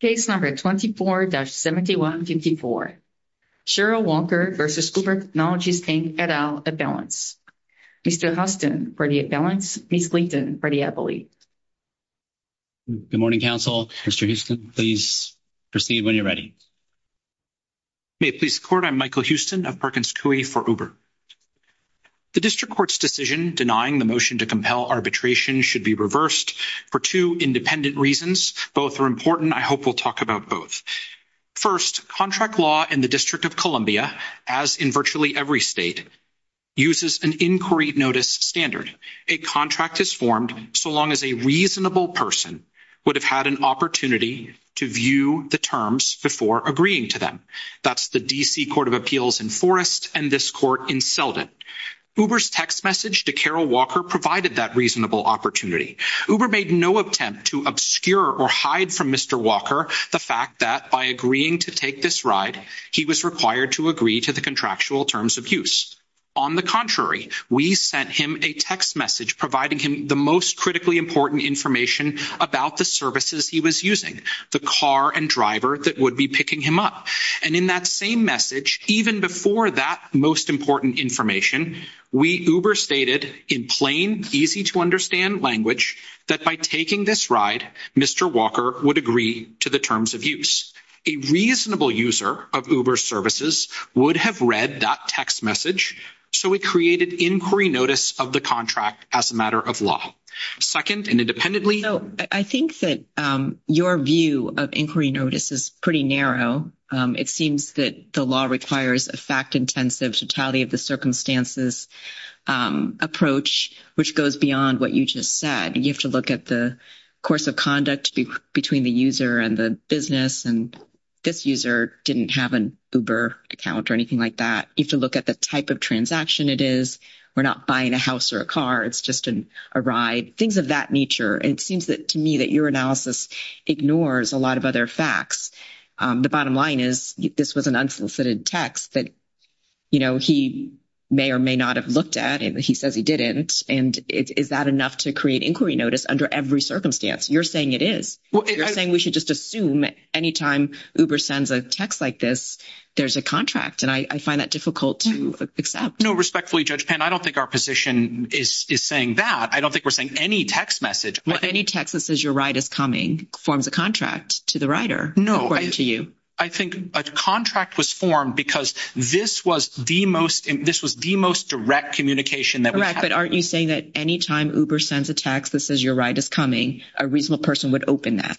Case No. 24-7154. Cheryl Walker v. Uber Technologies, Inc., et al., Abelance. Mr. Huston, for the Abelance. Ms. Gleason, for the Abilene. Good morning, counsel. Mr. Huston, please proceed when you're ready. May it please the court, I'm Michael Huston of Perkins Coie for Uber. The district court's decision denying the motion to compel arbitration should be reversed for two independent reasons. Both are important. I hope we'll talk about both. First, contract law in the District of Columbia, as in virtually every state, uses an inquiry notice standard. A contract is formed so long as a reasonable person would have had an opportunity to view the terms before agreeing to them. That's the D.C. Court of Appeals in Forrest and this court in Selden. Uber's text message to Carol Walker provided that reasonable opportunity. Uber made no attempt to obscure or hide from Mr. Walker the fact that by agreeing to take this ride, he was required to agree to the contractual terms of use. On the contrary, we sent him a text message providing him the most critically important information about the services he was using, the car and driver that would be picking him up. And in that same message, even before that most important information, we Uber stated in plain, easy-to-understand language that by taking this ride, Mr. Walker would agree to the terms of use. A reasonable user of Uber's services would have read that text message, so it created inquiry notice of the contract as a matter of law. I think that your view of inquiry notice is pretty narrow. It seems that the law requires a fact-intensive, totality-of-the-circumstances approach, which goes beyond what you just said. You have to look at the course of conduct between the user and the business, and this user didn't have an Uber account or anything like that. You have to look at the type of transaction it is. We're not buying a house or a car. It's just a ride, things of that nature, and it seems to me that your analysis ignores a lot of other facts. The bottom line is this was an unfulfilled text that, you know, he may or may not have looked at, and he says he didn't, and is that enough to create inquiry notice under every circumstance? You're saying it is. You're saying we should just assume that any time Uber sends a text like this, there's a contract, and I find that difficult to accept. No, respectfully, Judge Penn, I don't think our position is saying that. I don't think we're saying any text message. Any text that says your ride is coming forms a contract to the rider, according to you. No, I think a contract was formed because this was the most direct communication that we had. But aren't you saying that any time Uber sends a text that says your ride is coming, a reasonable person would open that?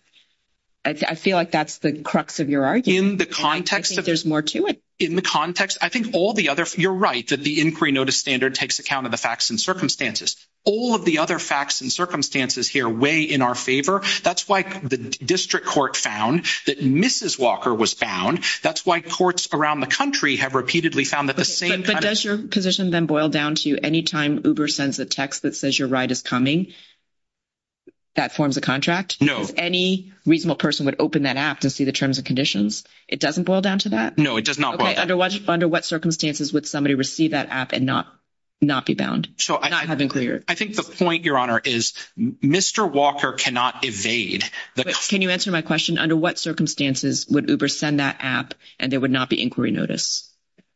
I feel like that's the crux of your argument. In the context of— I think there's more to it. In the context—I think all the other—you're right that the inquiry notice standard takes account of the facts and circumstances. All of the other facts and circumstances here weigh in our favor. That's why the district court found that Mrs. Walker was found. That's why courts around the country have repeatedly found that the same kind of— If Uber sends a text that says your ride is coming, that forms a contract? No. Any reasonable person would open that app to see the terms and conditions. It doesn't boil down to that? No, it does not boil down to that. Okay. Under what circumstances would somebody receive that app and not be bound, not have inquiry? I think the point, Your Honor, is Mr. Walker cannot evade the— Can you answer my question? Under what circumstances would Uber send that app and there would not be inquiry notice?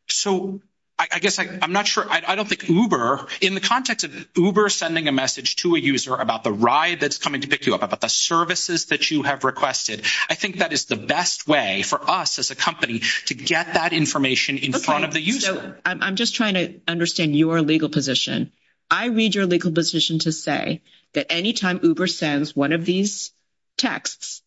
So I guess I'm not sure—I don't think Uber— In the context of Uber sending a message to a user about the ride that's coming to pick you up, about the services that you have requested, I think that is the best way for us as a company to get that information in front of the user. So I'm just trying to understand your legal position. I read your legal position to say that any time Uber sends one of these texts,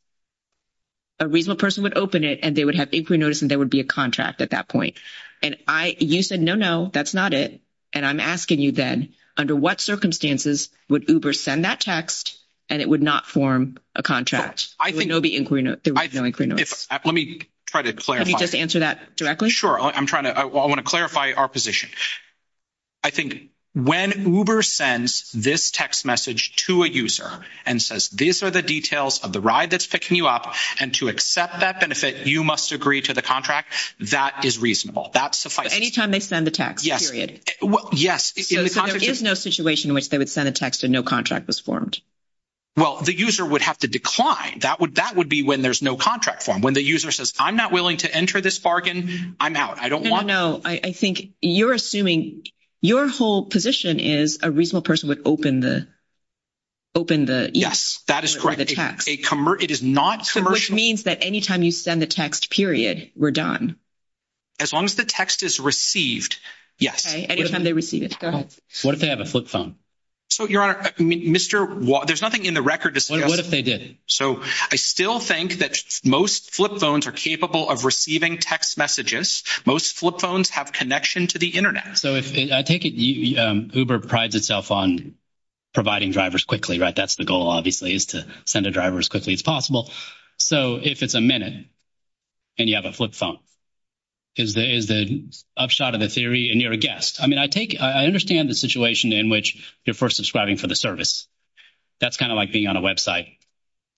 a reasonable person would open it, and they would have inquiry notice, and there would be a contract at that point. And I—you said, no, no, that's not it, and I'm asking you then, under what circumstances would Uber send that text and it would not form a contract? I think— There would be no inquiry notice. Let me try to clarify. Can you just answer that directly? Sure. I'm trying to—I want to clarify our position. I think when Uber sends this text message to a user and says, these are the details of the ride that's picking you up, and to accept that benefit, you must agree to the contract, that is reasonable. That's the— Any time they send a text, period. Yes. So there is no situation in which they would send a text and no contract was formed? Well, the user would have to decline. That would be when there's no contract formed. When the user says, I'm not willing to enter this bargain, I'm out. I don't want— No, no, no. I think you're assuming—your whole position is a reasonable person would open the—open the— Yes. That is correct. It is not commercial. Which means that any time you send a text, period, we're done. As long as the text is received, yes. Okay. Any time they receive it. Go ahead. What if they have a flip phone? So, Your Honor, Mr.—there's nothing in the record to suggest— What if they did? So, I still think that most flip phones are capable of receiving text messages. Most flip phones have connection to the Internet. So, I take it Uber prides itself on providing drivers quickly, right? That's the goal, obviously, is to send a driver as quickly as possible. So, if it's a minute and you have a flip phone, is there an upshot of the theory and you're a guest? I mean, I take—I understand the situation in which you're first subscribing for the service. That's kind of like being on a website.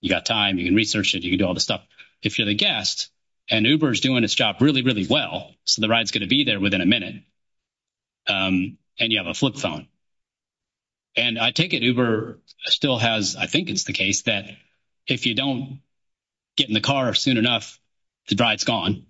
You got time. You can research it. You can do all this stuff. If you're the guest and Uber is doing its job really, really well, so the ride's going to be there within a minute, and you have a flip phone. And I take it Uber still has—I think it's the case that if you don't get in the car soon enough, the drive's gone.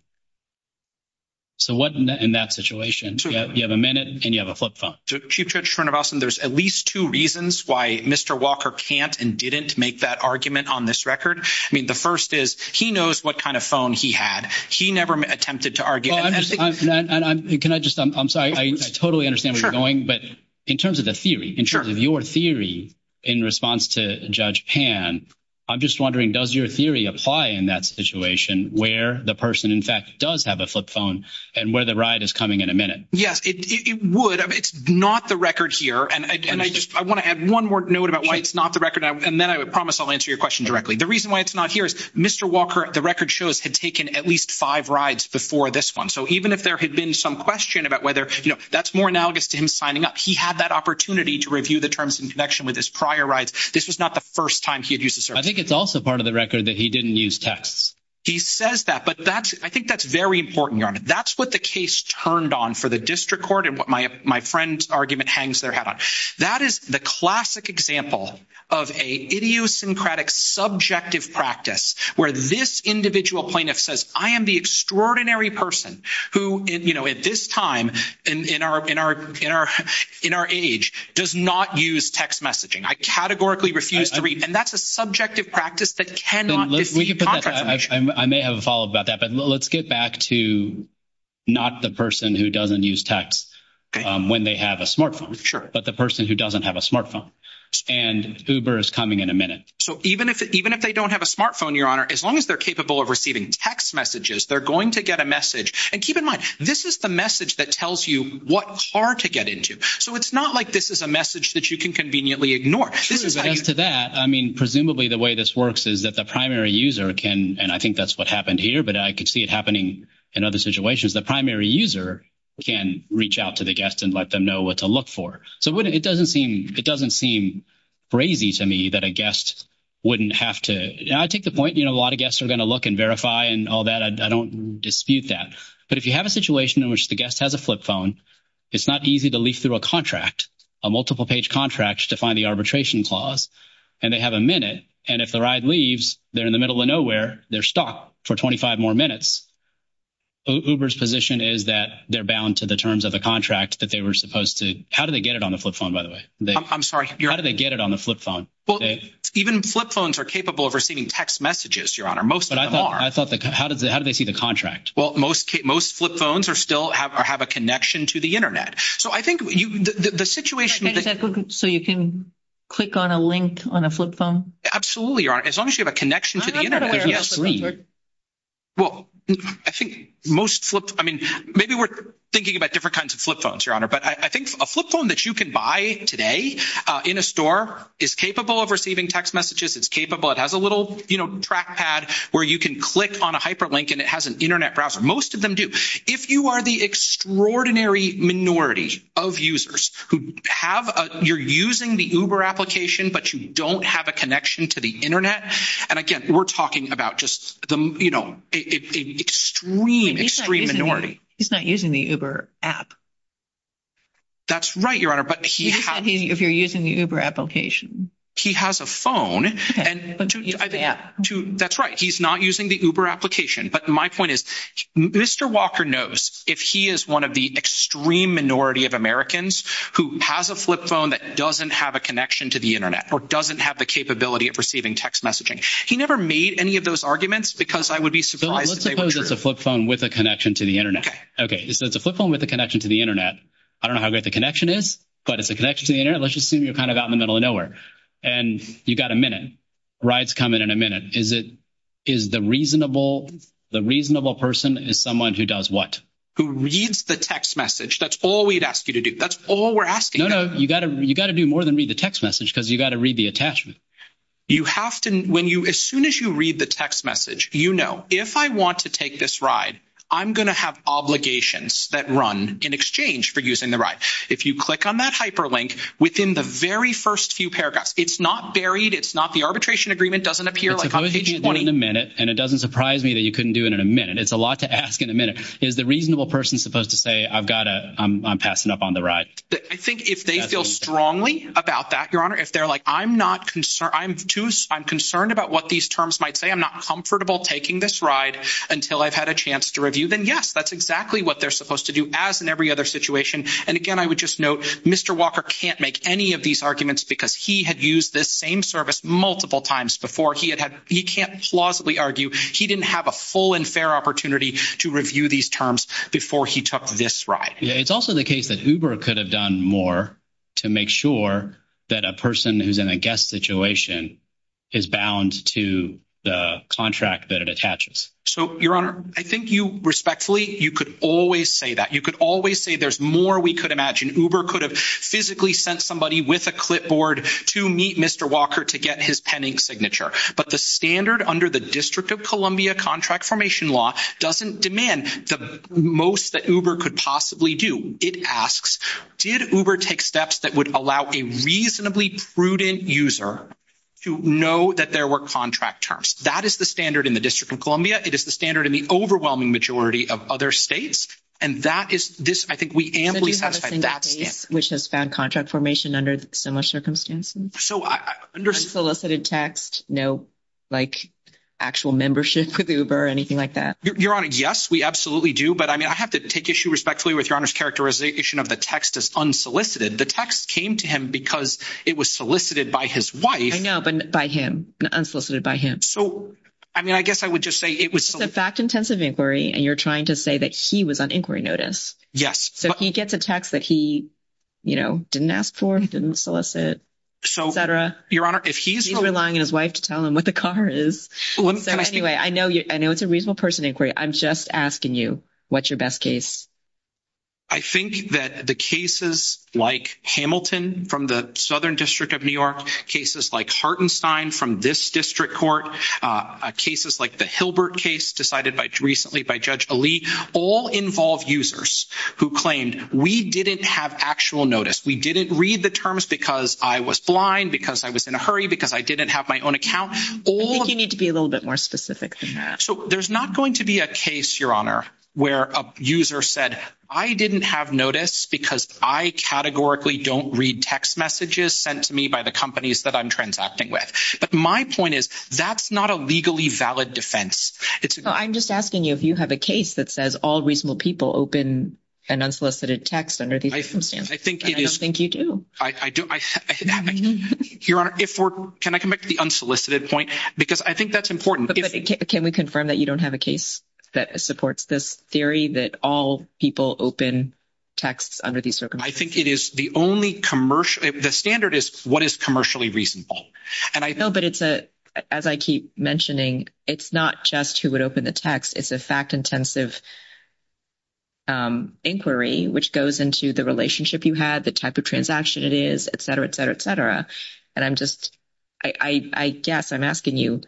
So, what in that situation? You have a minute and you have a flip phone. Chief Judge Schwernevossen, there's at least two reasons why Mr. Walker can't and didn't make that argument on this record. I mean, the first is he knows what kind of phone he had. He never attempted to argue. Can I just—I'm sorry. I totally understand where you're going, but in terms of the theory, in terms of your theory in response to Judge Pan, I'm just wondering, does your theory apply in that situation where the person, in fact, does have a flip phone and where the ride is coming in a minute? Yes, it would. It's not the record here, and I want to add one more note about why it's not the record, and then I promise I'll answer your question directly. The reason why it's not here is Mr. Walker, the record shows, had taken at least five rides before this one. So, even if there had been some question about whether—you know, that's more analogous to him signing up. He had that opportunity to review the terms in connection with his prior rides. This was not the first time he had used a— I think it's also part of the record that he didn't use texts. He says that, but that's—I think that's very important, Your Honor. That's what the case turned on for the district court and what my friend's argument hangs their head on. That is the classic example of an idiosyncratic subjective practice where this individual plaintiff says, I am the extraordinary person who, you know, at this time, in our age, does not use text messaging. I categorically refuse to read, and that's a subjective practice that cannot— I may have a follow-up about that, but let's get back to not the person who doesn't use text when they have a smartphone, but the person who doesn't have a smartphone. And Uber is coming in a minute. So, even if they don't have a smartphone, Your Honor, as long as they're capable of receiving text messages, they're going to get a message. And keep in mind, this is the message that tells you what car to get into. So, it's not like this is a message that you can conveniently ignore. Thanks to that, I mean, presumably the way this works is that the primary user can—and I think that's what happened here, but I could see it happening in other situations—the primary user can reach out to the guest and let them know what to look for. So, it doesn't seem crazy to me that a guest wouldn't have to—I take the point, you know, a lot of guests are going to look and verify and all that. I don't dispute that. But if you have a situation in which the guest has a flip phone, it's not easy to leaf through a contract, a multiple-page contract to find the arbitration clause, and they have a minute. And if the ride leaves, they're in the middle of nowhere, they're stuck for 25 more minutes. Uber's position is that they're bound to the terms of the contract that they were supposed to—how do they get it on the flip phone, by the way? I'm sorry. How do they get it on the flip phone? Well, even flip phones are capable of receiving text messages, Your Honor, most of them are. But I thought—how do they see the contract? Well, most flip phones still have a connection to the Internet. So I think the situation— So you can click on a link on a flip phone? Absolutely, Your Honor. As long as you have a connection to the Internet, yes. Well, I think most flip—I mean, maybe we're thinking about different kinds of flip phones, Your Honor, but I think a flip phone that you can buy today in a store is capable of receiving text messages, it's capable—it has a little, you know, trackpad where you can click on a hyperlink and it has an Internet browser. Most of them do. If you are the extraordinary minority of users who have a—you're using the Uber application, but you don't have a connection to the Internet, and again, we're talking about just the, you know, extreme, extreme minority. He's not using the Uber app. That's right, Your Honor, but he has— If you're using the Uber application. He has a phone, and— Yeah. That's right, he's not using the Uber application. But my point is, Mr. Walker knows if he is one of the extreme minority of Americans who has a flip phone that doesn't have a connection to the Internet or doesn't have the capability of receiving text messaging. He never made any of those arguments because I would be surprised if they were true. Let's suppose it's a flip phone with a connection to the Internet. Okay. Okay, so it's a flip phone with a connection to the Internet. I don't know how good the connection is, but it's a connection to the Internet. Let's just assume you're kind of out in the middle of nowhere, and you've got a minute. The ride's coming in a minute. Is it—is the reasonable—the reasonable person is someone who does what? Who reads the text message. That's all we'd ask you to do. That's all we're asking. No, no, you've got to do more than read the text message because you've got to read the attachment. You have to—when you—as soon as you read the text message, you know, if I want to take this ride, I'm going to have obligations that run in exchange for using the ride. If you click on that hyperlink within the very first few paragraphs, it's not buried. It's not the arbitration agreement. It doesn't appear like— If the obligation is done in a minute, and it doesn't surprise me that you couldn't do it in a minute. It's a lot to ask in a minute. Is the reasonable person supposed to say, I've got to—I'm passing up on the ride? I think if they feel strongly about that, Your Honor, if they're like, I'm not—I'm concerned about what these terms might say. I'm not comfortable taking this ride until I've had a chance to review. Then, yes, that's exactly what they're supposed to do as in every other situation. And again, I would just note, Mr. Walker can't make any of these arguments because he had used this same service multiple times before. He can't plausibly argue. He didn't have a full and fair opportunity to review these terms before he took this ride. It's also the case that Uber could have done more to make sure that a person who's in a guest situation is bound to the contract that it attaches. So, Your Honor, I think you respectfully—you could always say that. You could always say there's more we could imagine. Uber could have physically sent somebody with a clipboard to meet Mr. Walker to get his pending signature. But the standard under the District of Columbia contract formation law doesn't demand the most that Uber could possibly do. It asks, did Uber take steps that would allow a reasonably prudent user to know that there were contract terms? That is the standard in the District of Columbia. It is the standard in the overwhelming majority of other states. And that is—I think we am— Which has found contract formation under similar circumstances? So, I— Solicited text, no, like, actual membership with Uber or anything like that? Your Honor, yes, we absolutely do. But, I mean, I have to take issue respectfully with Your Honor's characterization of the text as unsolicited. The text came to him because it was solicited by his wife. I know, but by him, unsolicited by him. So, I mean, I guess I would just say it was— So, this is a fact-intensive inquiry, and you're trying to say that he was on inquiry notice. Yes. So, he gets a text that he, you know, didn't ask for, he didn't solicit, et cetera. Your Honor, if he's— He's relying on his wife to tell him what the car is. So, anyway, I know it's a reasonable person inquiry. I'm just asking you, what's your best case? I think that the cases like Hamilton from the Southern District of New York, cases like Hartenstein from this district court, cases like the Hilbert case decided recently by Judge Ali, all involve users who claimed, we didn't have actual notice. We didn't read the terms because I was blind, because I was in a hurry, because I didn't have my own account. I think you need to be a little bit more specific than that. So, there's not going to be a case, Your Honor, where a user said, I didn't have notice because I categorically don't read text messages sent to me by the companies that I'm transacting with. My point is, that's not a legally valid defense. I'm just asking you if you have a case that says all reasonable people open an unsolicited text under these circumstances. I think it is. I think you do. I do. Your Honor, if we're—can I come back to the unsolicited point? Because I think that's important. Can we confirm that you don't have a case that supports this theory that all people open texts under these circumstances? I think it is the only commercial—the standard is what is commercially reasonable. No, but it's a—as I keep mentioning, it's not just who would open the text. It's a fact-intensive inquiry, which goes into the relationship you have, the type of transaction it is, et cetera, et cetera, et cetera. And I'm just—I guess I'm asking you,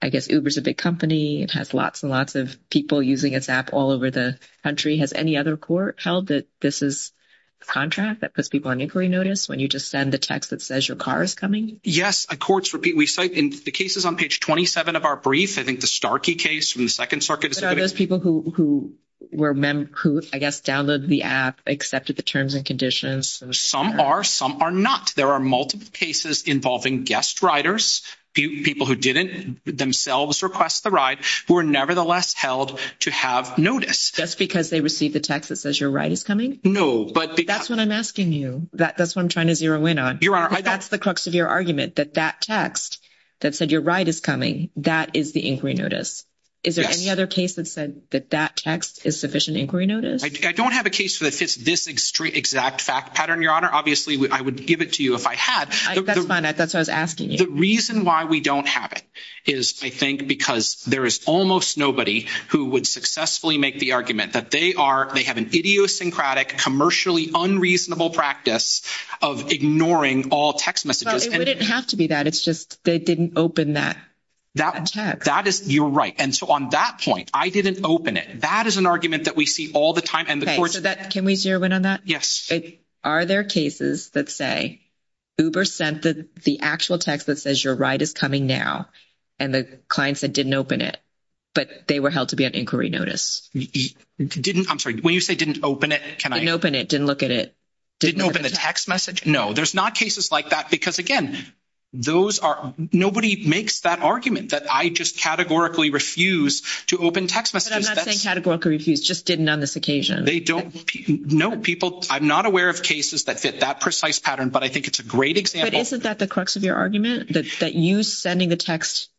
I guess Uber's a big company. It has lots and lots of people using its app all over the country. Has any other court held that this is a contract that puts people on inquiry notice when you just send a text that says your car is coming? Yes, courts repeat. We cite—and the case is on page 27 of our brief. I think the Starkey case from the Second Circuit is— But are those people who were—who, I guess, downloaded the app, accepted the terms and conditions? Some are. Some are not. There are multiple cases involving guest riders, people who didn't themselves request the ride, who were nevertheless held to have notice. Just because they received the text that says your ride is coming? No, but— That's what I'm asking you. That's what I'm trying to zero in on. That's the crux of your argument, that that text that said your ride is coming, that is the inquiry notice. Is there any other case that said that that text is sufficient inquiry notice? I don't have a case that fits this exact fact pattern, Your Honor. Obviously, I would give it to you if I had. That's fine. That's what I was asking you. The reason why we don't have it is, I think, because there is almost nobody who would successfully make the argument that they are—they have an idiosyncratic, commercially unreasonable practice of ignoring all text messages. It doesn't have to be that. It's just they didn't open that text. That is—you're right. And so on that point, I didn't open it. That is an argument that we see all the time. And the courts— Can we zero in on that? Yes. Are there cases that say Uber sent the actual text that says your ride is coming now, and the client said didn't open it, but they were held to be an inquiry notice? Didn't—I'm sorry. When you say didn't open it, can I— Didn't open it. Didn't look at it. Didn't open a text message? No. There's not cases like that because, again, those are—nobody makes that argument that I just categorically refuse to open text messages. But I'm not saying categorically refuse. Just didn't on this occasion. They don't—no, people—I'm not aware of cases that fit that precise pattern, but I think it's a great example. But isn't that the crux of your argument, that you sending the text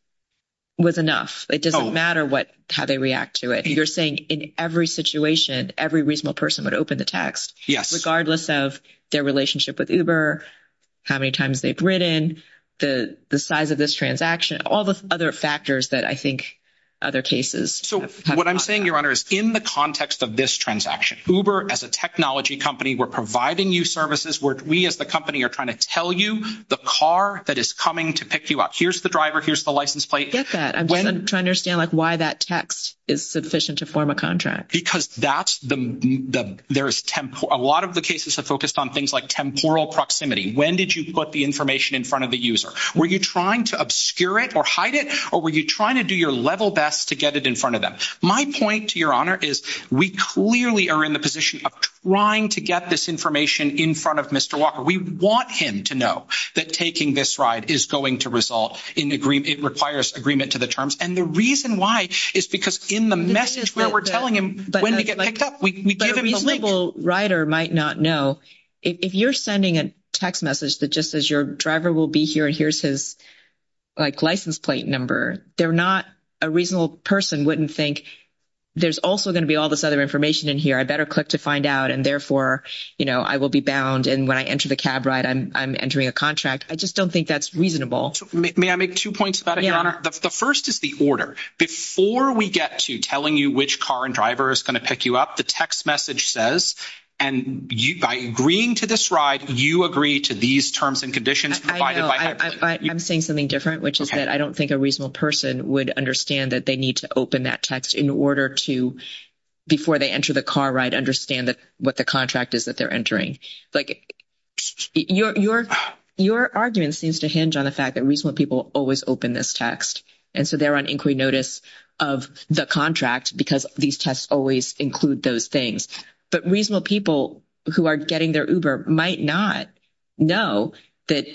was enough? It doesn't matter what—how they react to it. You're saying in every situation, every reasonable person would open the text. Yes. Regardless of their relationship with Uber, how many times they've ridden, the size of this transaction, all the other factors that I think other cases— So what I'm saying, Your Honor, is in the context of this transaction, Uber, as a technology company, we're providing you services. We, as the company, are trying to tell you the car that is coming to pick you up. Here's the driver. Here's the license plate. I get that. I'm trying to understand, like, why that text is sufficient to form a contract. Because that's the—there is—a lot of the cases are focused on things like temporal proximity. When did you put the information in front of the user? Were you trying to obscure it or hide it, or were you trying to do your level best to get it in front of them? My point, Your Honor, is we clearly are in the position of trying to get this information in front of Mr. Walker. We want him to know that taking this ride is going to result in agreement—it requires agreement to the terms. And the reason why is because in the message where we're telling him when to get picked up— A reasonable rider might not know. If you're sending a text message that just says your driver will be here and here's his, like, license plate number, they're not—a reasonable person wouldn't think there's also going to be all this other information in here. I better click to find out, and therefore, you know, I will be bound. And when I enter the cab ride, I'm entering a contract. I just don't think that's reasonable. May I make two points, Your Honor? The first is the order. Before we get to telling you which car and driver is going to pick you up, the text message says, and by agreeing to this ride, you agree to these terms and conditions provided by that person. I'm saying something different, which is that I don't think a reasonable person would understand that they need to open that text in order to, before they enter the car ride, understand what the contract is that they're entering. Like, your argument seems to hinge on the fact that reasonable people always open this text, and so they're on inquiry notice of the contract because these tests always include those things. But reasonable people who are getting their Uber might not know that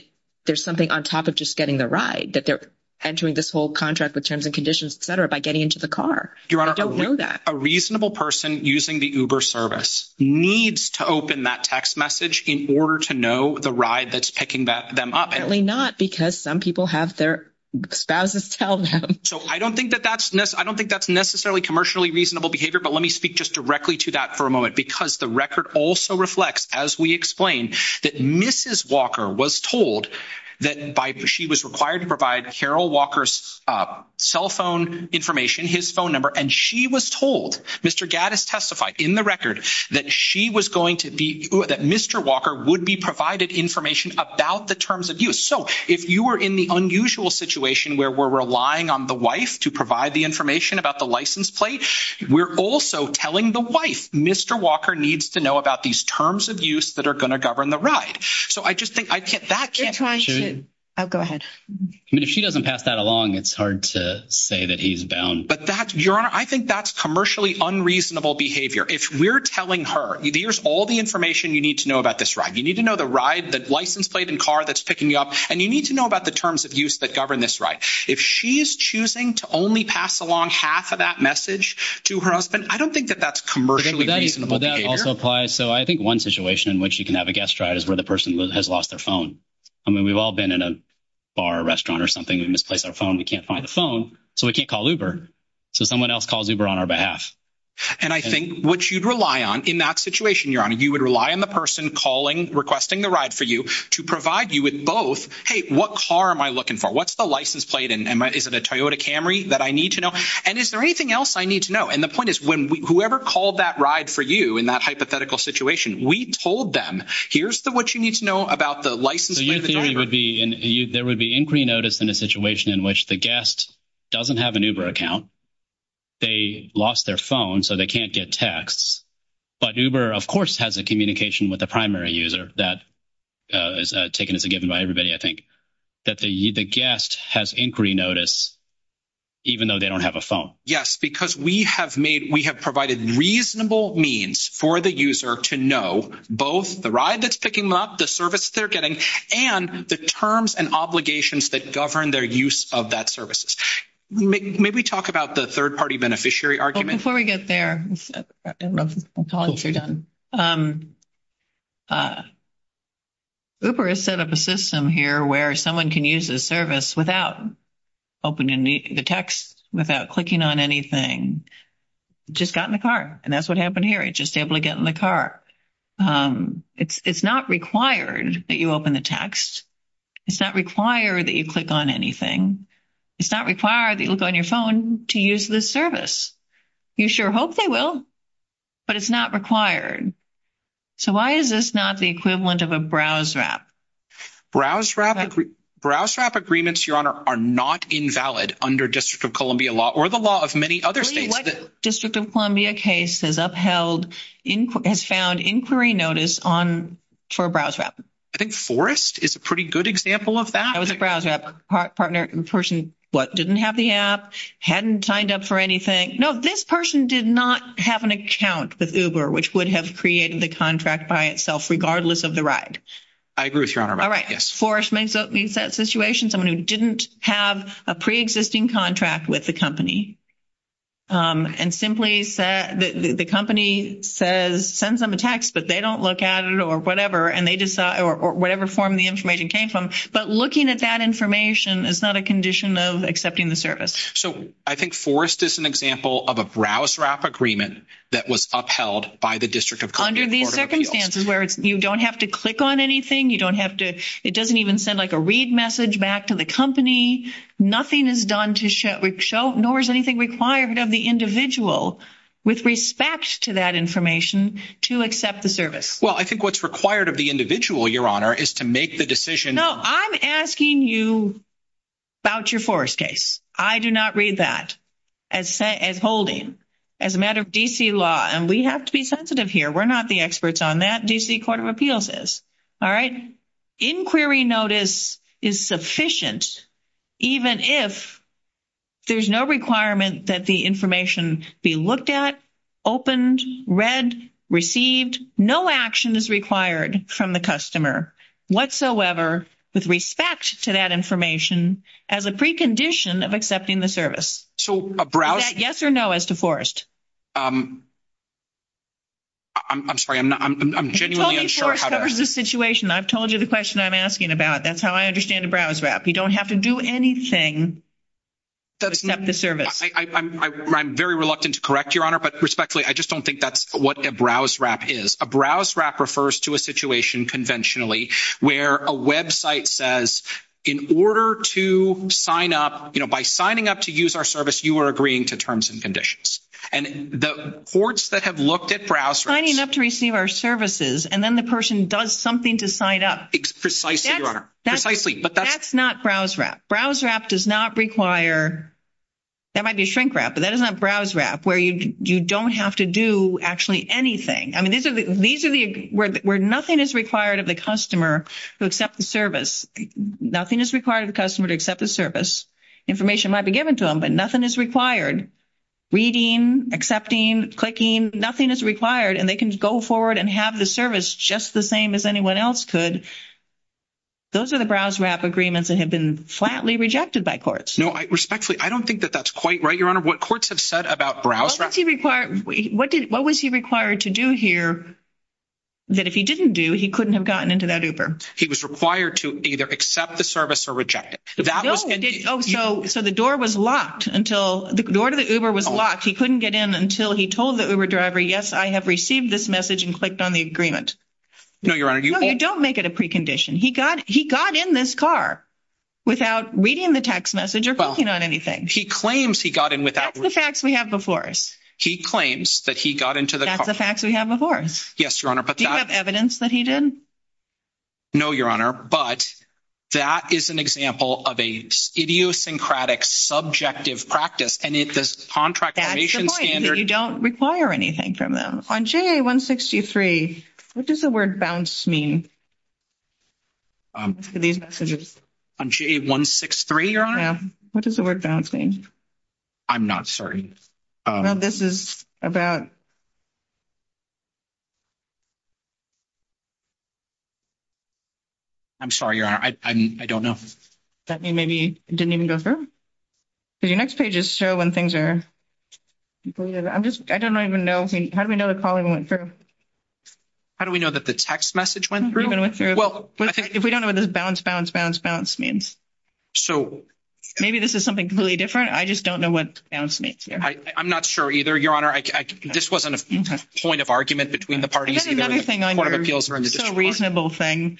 there's something on top of just getting the ride, that they're entering this whole contract with terms and conditions, et cetera, by getting into the car. I don't know that. Your Honor, a reasonable person using the Uber service needs to open that text message in order to know the ride that's picking them up. Apparently not, because some people have their spouses tell them. I don't think that's necessarily commercially reasonable behavior, but let me speak just directly to that for a moment, because the record also reflects, as we explained, that Mrs. Walker was told that she was required to provide Carol Walker's cell phone information, his phone number, and she was told, Mr. Gaddis testified in the record, that she was going to be, that Mr. Walker would be provided information about the terms of use. So if you were in the unusual situation where we're relying on the wife to provide the information about the license plate, we're also telling the wife, Mr. Walker needs to know about these terms of use that are going to govern the ride. So I just think that can't. I'll go ahead. If she doesn't pass that along, it's hard to say that he's bound. But that's, Your Honor, I think that's commercially unreasonable behavior. If we're telling her, here's all the information you need to know about this ride. You need to know the ride, the license plate and car that's picking you up, and you need to know about the terms of use that govern this ride. If she's choosing to only pass along half of that message to her husband, I don't think that that's commercially reasonable behavior. Well, that also applies. So I think one situation in which you can have a guest ride is where the person has lost their phone. I mean, we've all been in a bar or restaurant or something and misplaced our phone. We can't find the phone, so we can't call Uber. So someone else calls Uber on our behalf. And I think what you'd rely on in that situation, Your Honor, you would rely on the person calling, requesting the ride for you, to provide you with both, hey, what car am I looking for? What's the license plate? Is it a Toyota Camry that I need to know? And is there anything else I need to know? And the point is, whoever called that ride for you in that hypothetical situation, we told them, here's what you need to know about the license plate. So your theory would be there would be inquiry notice in a situation in which the guest doesn't have an Uber account, they lost their phone, so they can't get texts, but Uber, of course, has a communication with the primary user. That is taken as a given by everybody, I think, that the guest has inquiry notice even though they don't have a phone. Yes, because we have provided reasonable means for the user to know both the ride that's picking them up, the service they're getting, and the terms and obligations that govern their use of that services. May we talk about the third-party beneficiary argument? Before we get there, that's all you've done. Uber has set up a system here where someone can use the service without opening the text, without clicking on anything, just got in the car. And that's what happened here. It just ably got in the car. It's not required that you open the text. It's not required that you click on anything. It's not required that you look on your phone to use this service. You sure hope they will, but it's not required. So why is this not the equivalent of a BrowseRap? BrowseRap agreements, Your Honor, are not invalid under District of Columbia law, or the law of many other states. District of Columbia case has found inquiry notice for BrowseRap. I think Forrest is a pretty good example of that. That was a BrowseRap partner and person, what, didn't have the app, hadn't signed up for anything. No, this person did not have an account with Uber, which would have created the contract by itself regardless of the ride. I agree with you, Your Honor. All right. Forrest may be in that situation, someone who didn't have a pre-existing contract with the company, and simply the company sends them a text, but they don't look at it or whatever, or whatever form the information came from. But looking at that information is not a condition of accepting the service. So I think Forrest is an example of a BrowseRap agreement that was upheld by the District of Columbia. Under these circumstances where you don't have to click on anything, you don't have to, it doesn't even send like a read message back to the company. Nothing is done to show, nor is anything required of the individual with respect to that information to accept the service. Well, I think what's required of the individual, Your Honor, is to make the decision. No, I'm asking you about your Forrest case. I do not read that as holding as a matter of D.C. law, and we have to be sensitive here. We're not the experts on that. D.C. Court of Appeals is. All right. Inquiry notice is sufficient even if there's no requirement that the information be looked at, opened, read, received. No action is required from the customer whatsoever with respect to that information as a precondition of accepting the service. So a BrowseRap. Is that yes or no as to Forrest? I'm sorry. I'm genuinely unsure how to. If only Forrest covers the situation. I've told you the question I'm asking about. That's how I understand a BrowseRap. You don't have to do anything to accept the service. I'm very reluctant to correct, Your Honor, but respectfully, I just don't think that's what a BrowseRap is. A BrowseRap refers to a situation conventionally where a website says in order to sign up, you know, by signing up to use our service, you are agreeing to terms and conditions. And the courts that have looked at BrowseRaps. Signing up to receive our services, and then the person does something to sign up. Precisely, Your Honor. Precisely. That's not BrowseRap. BrowseRap does not require, that might be shrink wrap, but that is not BrowseRap, where you don't have to do actually anything. I mean, these are the, where nothing is required of the customer to accept the service. Nothing is required of the customer to accept the service. Information might be given to them, but nothing is required. Reading, accepting, clicking, nothing is required. And they can go forward and have the service just the same as anyone else could. Those are the BrowseRap agreements that have been flatly rejected by courts. No, respectfully, I don't think that that's quite right, Your Honor. What courts have said about BrowseRap. What was he required to do here that if he didn't do, he couldn't have gotten into that Uber? He was required to either accept the service or reject it. No, so the door was locked until, the door to the Uber was locked. He couldn't get in until he told the Uber driver, yes, I have received this message and clicked on the agreement. No, Your Honor. No, you don't make it a precondition. He got in this car without reading the text message or clicking on anything. He claims he got in without. That's the facts we have before us. He claims that he got into the car. That's the facts we have before us. Yes, Your Honor, but that. Do you have evidence that he did? No, Your Honor, but that is an example of an idiosyncratic, subjective practice. And it's a contract creation standard. That's the point, that you don't require anything from them. On JA-163, what does the word bounce mean? For these messages. On JA-163, Your Honor? Yes. What does the word bounce mean? I'm not certain. Well, this is about. I'm sorry, Your Honor, I don't know. Does that mean maybe it didn't even go through? Does your next pages show when things are completed? I don't even know. How do we know the calling went through? How do we know that the text message went through? If we don't know what this bounce, bounce, bounce, bounce means. Maybe this is something completely different. I just don't know what bounce means here. I'm not sure either, Your Honor. This wasn't a point of argument between the parties. It's a reasonable thing.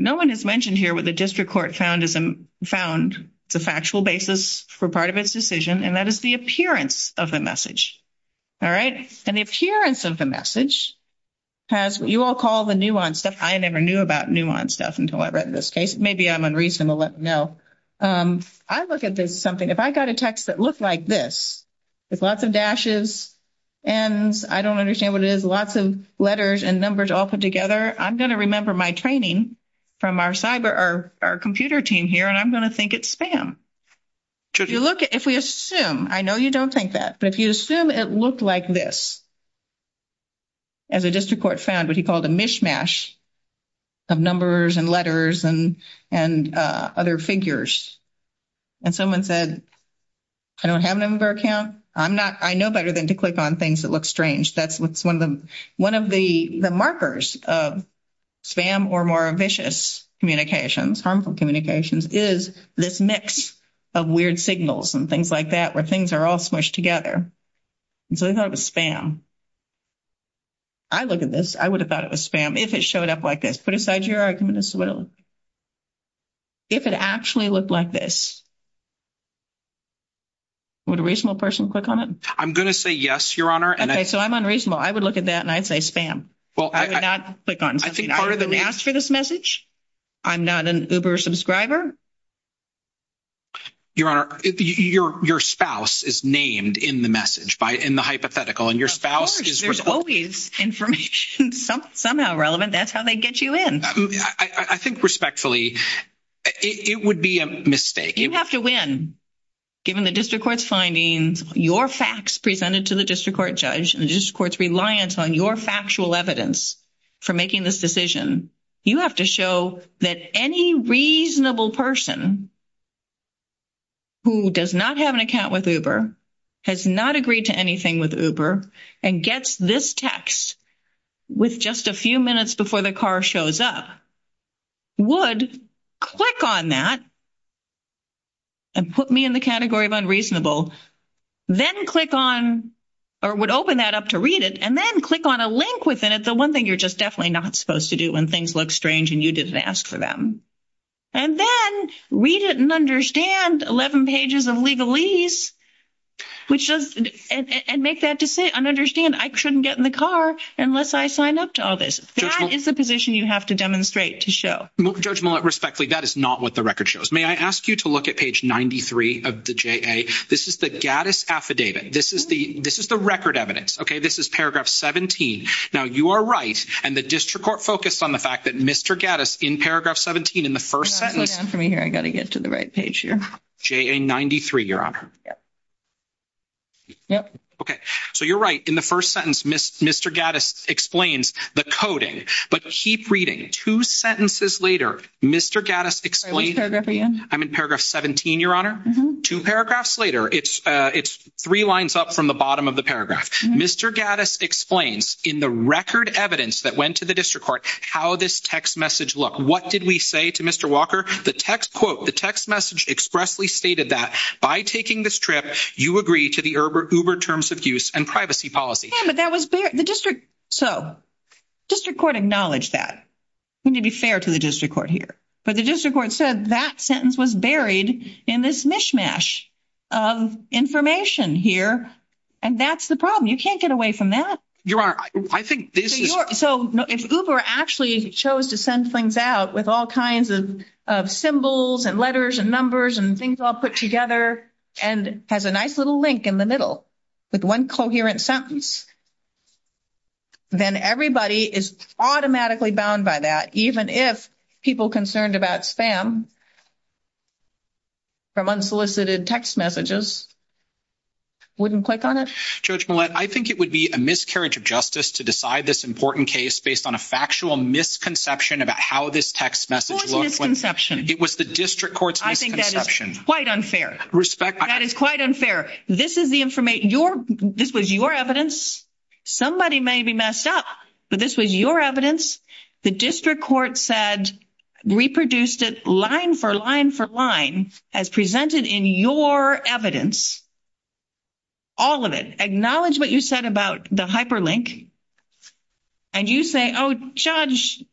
No one has mentioned here what the district court found the factual basis for part of its decision, and that is the appearance of the message. All right? And the appearance of the message has what you all call the nuance stuff. I never knew about nuance stuff until I read this case. Maybe I'm unreasonable. I don't know. I look at this as something, if I've got a text that looks like this, with lots of dashes and I don't understand what it is, with lots of letters and numbers all put together, I'm going to remember my training from our computer team here, and I'm going to think it's spam. If we assume, I know you don't think that, but if you assume it looked like this, as the district court found what he called a mishmash of numbers and letters and other figures, and someone said, I don't have a number account. I know better than to click on things that look strange. That's one of the markers of spam or more vicious communications, harmful communications, is this mix of weird signals and things like that, where things are all squished together. So they thought it was spam. I look at this, I would have thought it was spam if it showed up like this. Put aside your argument as well. If it actually looked like this, would a reasonable person click on it? I'm going to say yes, Your Honor. Okay, so I'm unreasonable. I would look at that and I'd say spam. I would not click on something. I was announced for this message. I'm not an Uber subscriber. Your Honor, your spouse is named in the message, in the hypothetical, and your spouse is responsible. Of course, there's always information somehow relevant. That's how they get you in. I think respectfully, it would be a mistake. You have to win, given the district court's findings, your facts presented to the district court judge, and the district court's reliance on your factual evidence for making this decision. You have to show that any reasonable person who does not have an account with Uber, has not agreed to anything with Uber, and gets this text with just a few minutes before the car shows up, would click on that and put me in the category of unreasonable, then click on, or would open that up to read it, and then click on a link within it, the one thing you're just definitely not supposed to do when things look strange and you just ask for them, and then read it and understand 11 pages of legalese, and make that decision and understand I shouldn't get in the car unless I sign up to all this. That is the position you have to demonstrate to show. Judge Millett, respectfully, that is not what the record shows. May I ask you to look at page 93 of the JA? This is the Gaddis affidavit. This is the record evidence. This is paragraph 17. Now, you are right, and the district court focused on the fact that Mr. Gaddis, in paragraph 17, in the first sentence. Wait for me here. I've got to get to the right page here. JA 93, Your Honor. Yes. Yes. Okay, so you're right. In the first sentence, Mr. Gaddis explains the coding, but keep reading. Two sentences later, Mr. Gaddis explains. I'm in paragraph 17, Your Honor. Two paragraphs later, it's three lines up from the bottom of the paragraph. Mr. Gaddis explains in the record evidence that went to the district court how this text message looked. What did we say to Mr. Walker? The text message expressly stated that by taking this trip, you agree to the Uber terms of use and privacy policy. Yeah, but that was the district. So district court acknowledged that. We need to be fair to the district court here. But the district court said that sentence was buried in this mishmash of information here, and that's the problem. You can't get away from that. Your Honor, I think this is. So if Uber actually chose to send things out with all kinds of symbols and letters and numbers and things all put together and has a nice little link in the middle with one coherent sentence, then everybody is automatically bound by that, even if people concerned about spam from unsolicited text messages wouldn't click on it. Judge Millett, I think it would be a miscarriage of justice to decide this important case based on a factual misconception about how this text message looked. It was the district court's misconception. I think that is quite unfair. Respect. That is quite unfair. This is the information. This was your evidence. Somebody may be messed up, but this was your evidence. The district court said, reproduced it line for line for line as presented in your evidence, all of it. Acknowledge what you said about the hyperlink. And you say, oh, Judge,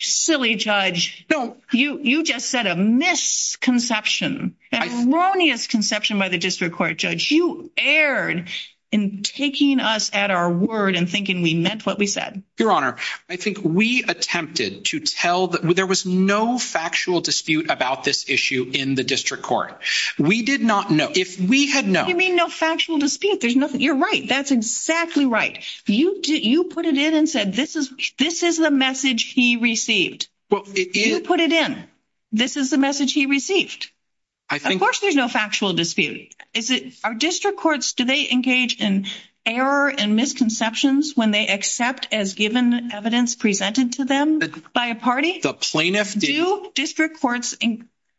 silly Judge, you just said a misconception, a erroneous conception by the district court, Judge. You erred in taking us at our word and thinking we meant what we said. Your Honor, I think we attempted to tell that there was no factual dispute about this issue in the district court. We did not know. If we had known. You mean no factual dispute. You're right. That's exactly right. You put it in and said this is the message he received. You put it in. This is the message he received. Of course there's no factual dispute. Are district courts, do they engage in error and misconceptions when they accept as given evidence presented to them by a party? The plaintiff did. Do district courts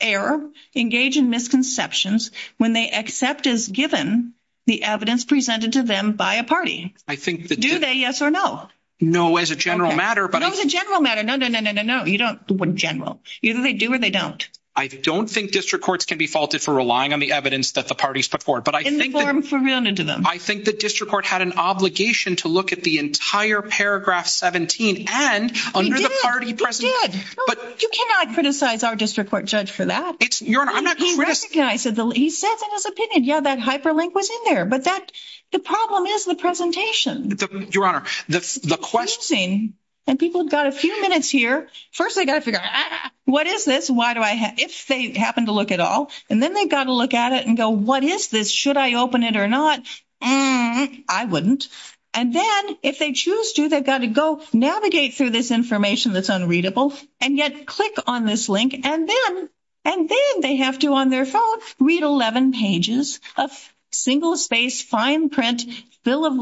err, engage in misconceptions when they accept as given the evidence presented to them by a party? Do they, yes or no? No, as a general matter. No, as a general matter. No, no, no, no, no, no. You don't, in general. Either they do or they don't. I don't think district courts can be faulted for relying on the evidence that the parties put forward. But I think the district court had an obligation to look at the entire paragraph 17 and under the party presentation. He did. You cannot criticize our district court, Judge, for that. He recognized it. He said in his opinion, yeah, that hyperlink was in there. But that, the problem is the presentation. Your Honor, the question. And people have got a few minutes here. First they've got to figure out, what is this? Why do I, if they happen to look at all. And then they've got to look at it and go, what is this? Should I open it or not? I wouldn't. And then if they choose to, they've got to go navigate through this information that's unreadable and yet click on this link. And then they have to, on their phone, read 11 pages of single-spaced, fine print, full of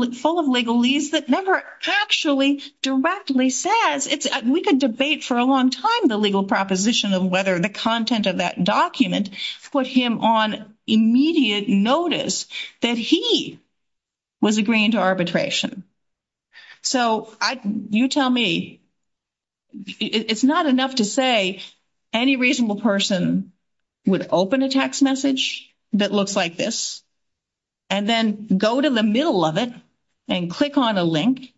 legalese that never actually directly says. We could debate for a long time the legal proposition of whether the content of that document put him on immediate notice that he was agreeing to arbitration. So, you tell me. It's not enough to say any reasonable person would open a text message that looks like this and then go to the middle of it and click on a link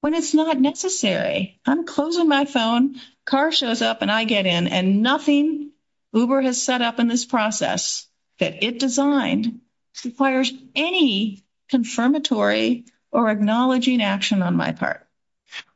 when it's not necessary. I'm closing my phone, car shows up, and I get in, and nothing Uber has set up in this process that it designed requires any confirmatory or acknowledging action on my part.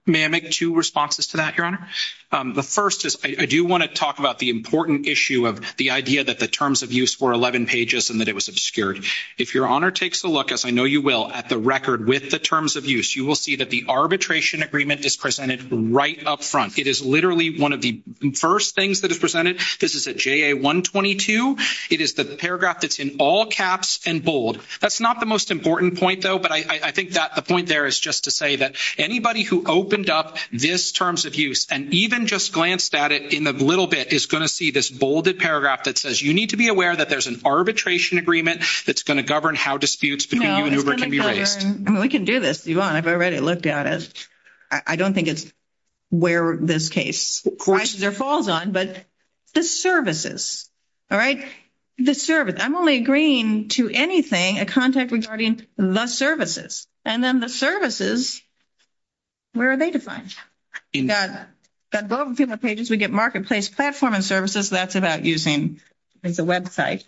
May I make two responses to that, Your Honor? The first is, I do want to talk about the important issue of the idea that the terms of use were 11 pages and that it was obscured. If Your Honor takes a look, as I know you will, at the record with the terms of use, you will see that the arbitration agreement is presented right up front. It is literally one of the first things that is presented. This is a JA-122. It is the paragraph that's in all caps and bold. That's not the most important point, though, but I think that the point there is just to say that anybody who opened up this terms of use and even just glanced at it in a little bit is going to see this bolded paragraph that says, you need to be aware that there's an arbitration agreement that's going to govern how disputes between you and Uber can be raised. We can do this, Yvonne. I've already looked at it. I don't think it's where this case falls on, but the services, all right? The service. I'm only agreeing to anything, a contact regarding the services, and then the services, where are they defined? We've got both of the pages. We get marketplace platform and services. That's about using the website.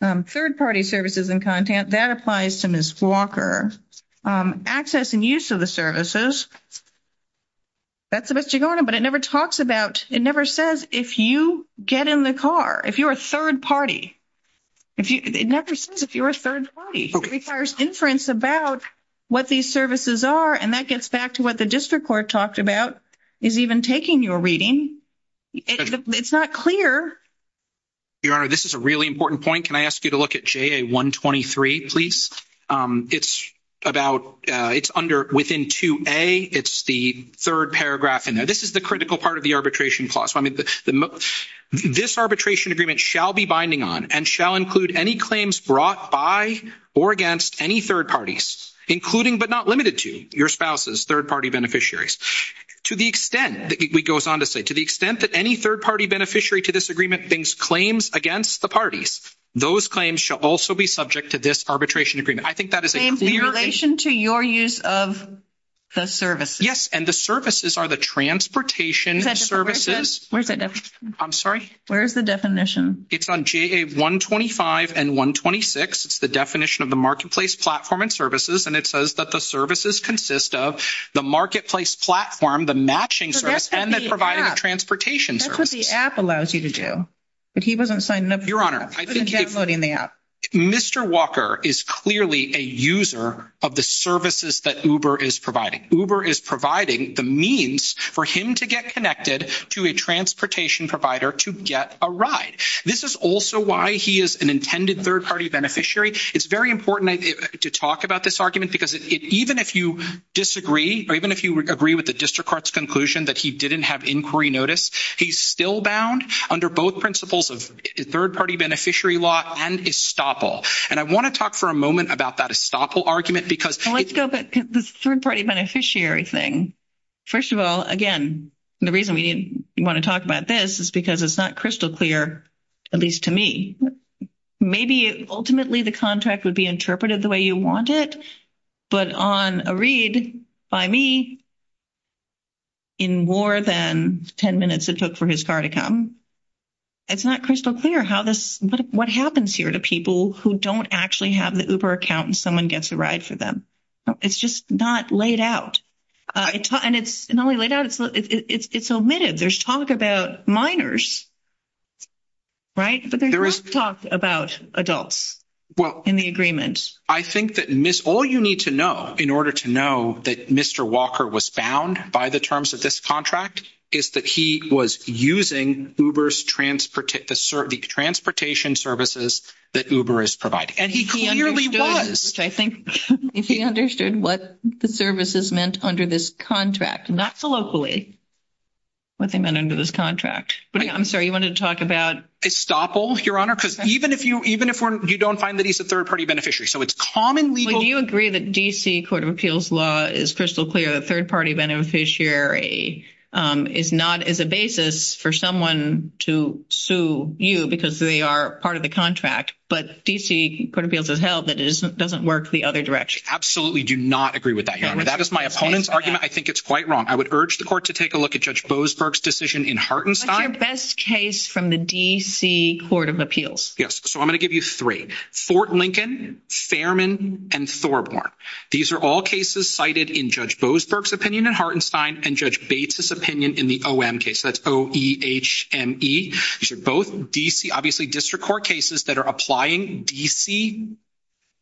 Third-party services and content, that applies to Ms. Walker. Access and use of the services, that's what you're going to, but it never talks about, it never says if you get in the car, if you're a third party. It never says if you're a third party. It requires inference about what these services are, and that gets back to what the district court talked about is even taking your reading. It's not clear. Your Honor, this is a really important point. Can I ask you to look at JA-123, please? It's about, it's under, within 2A. It's the third paragraph in there. This is the critical part of the arbitration clause. This arbitration agreement shall be binding on and shall include any claims brought by or against any third parties, including but not limited to your spouse's third-party beneficiaries. To the extent, it goes on to say, to the extent that any third-party beneficiary to this agreement brings claims against the parties, those claims shall also be subject to this arbitration agreement. I think that is a clear... In relation to your use of the services. Yes, and the services are the transportation services. Where's the definition? I'm sorry? Where's the definition? It's on JA-125 and 126. It's the definition of the marketplace platform and services, and it says that the services consist of the marketplace platform, the matching service, and that's providing a transportation service. That's what the app allows you to do, but he doesn't sign up for that. Your Honor, I think... He's downloading the app. Mr. Walker is clearly a user of the services that Uber is providing. Uber is providing the means for him to get connected to a transportation provider to get a ride. This is also why he is an intended third-party beneficiary. It's very important to talk about this argument because even if you disagree, or even if you agree with the district court's conclusion that he didn't have inquiry notice, he's still bound under both principles of third-party beneficiary law and estoppel. And I want to talk for a moment about that estoppel argument because... Let's go back to the third-party beneficiary thing. First of all, again, the reason we want to talk about this is because it's not crystal clear, at least to me. Maybe ultimately the contract would be interpreted the way you want it, but on a read by me in more than 10 minutes it took for his car to come, it's not crystal clear what happens here to people who don't actually have the Uber account and someone gets a ride for them. It's just not laid out. And it's not only laid out, it's omitted. There's talk about minors, right? But there is talk about adults in the agreement. I think that all you need to know in order to know that Mr. Walker was bound by the terms of this contract is that he was using Uber's transportation services that Uber is providing. And he clearly was. I think he understood what the services meant under this contract, not so locally, what they meant under this contract. I'm sorry, you wanted to talk about... Estoppel, Your Honor, because even if you don't find that he's a third-party beneficiary, so it's common legal... Do you agree that D.C. Court of Appeals law is crystal clear that third-party beneficiary is not as a basis for someone to sue you because they are part of the contract, but D.C. Court of Appeals has held that it doesn't work the other direction? I absolutely do not agree with that, Your Honor. That is my opponent's argument. I think it's quite wrong. I would urge the court to take a look at Judge Bozberg's decision in Hartenstein. What's our best case from the D.C. Court of Appeals? Yes, so I'm going to give you three. Fort Lincoln, Fairman, and Thorborn. These are all cases cited in Judge Bozberg's opinion in Hartenstein and Judge Bates' opinion in the O.M. case. That's O-E-H-M-E. These are both D.C., obviously, district court cases that are applying D.C.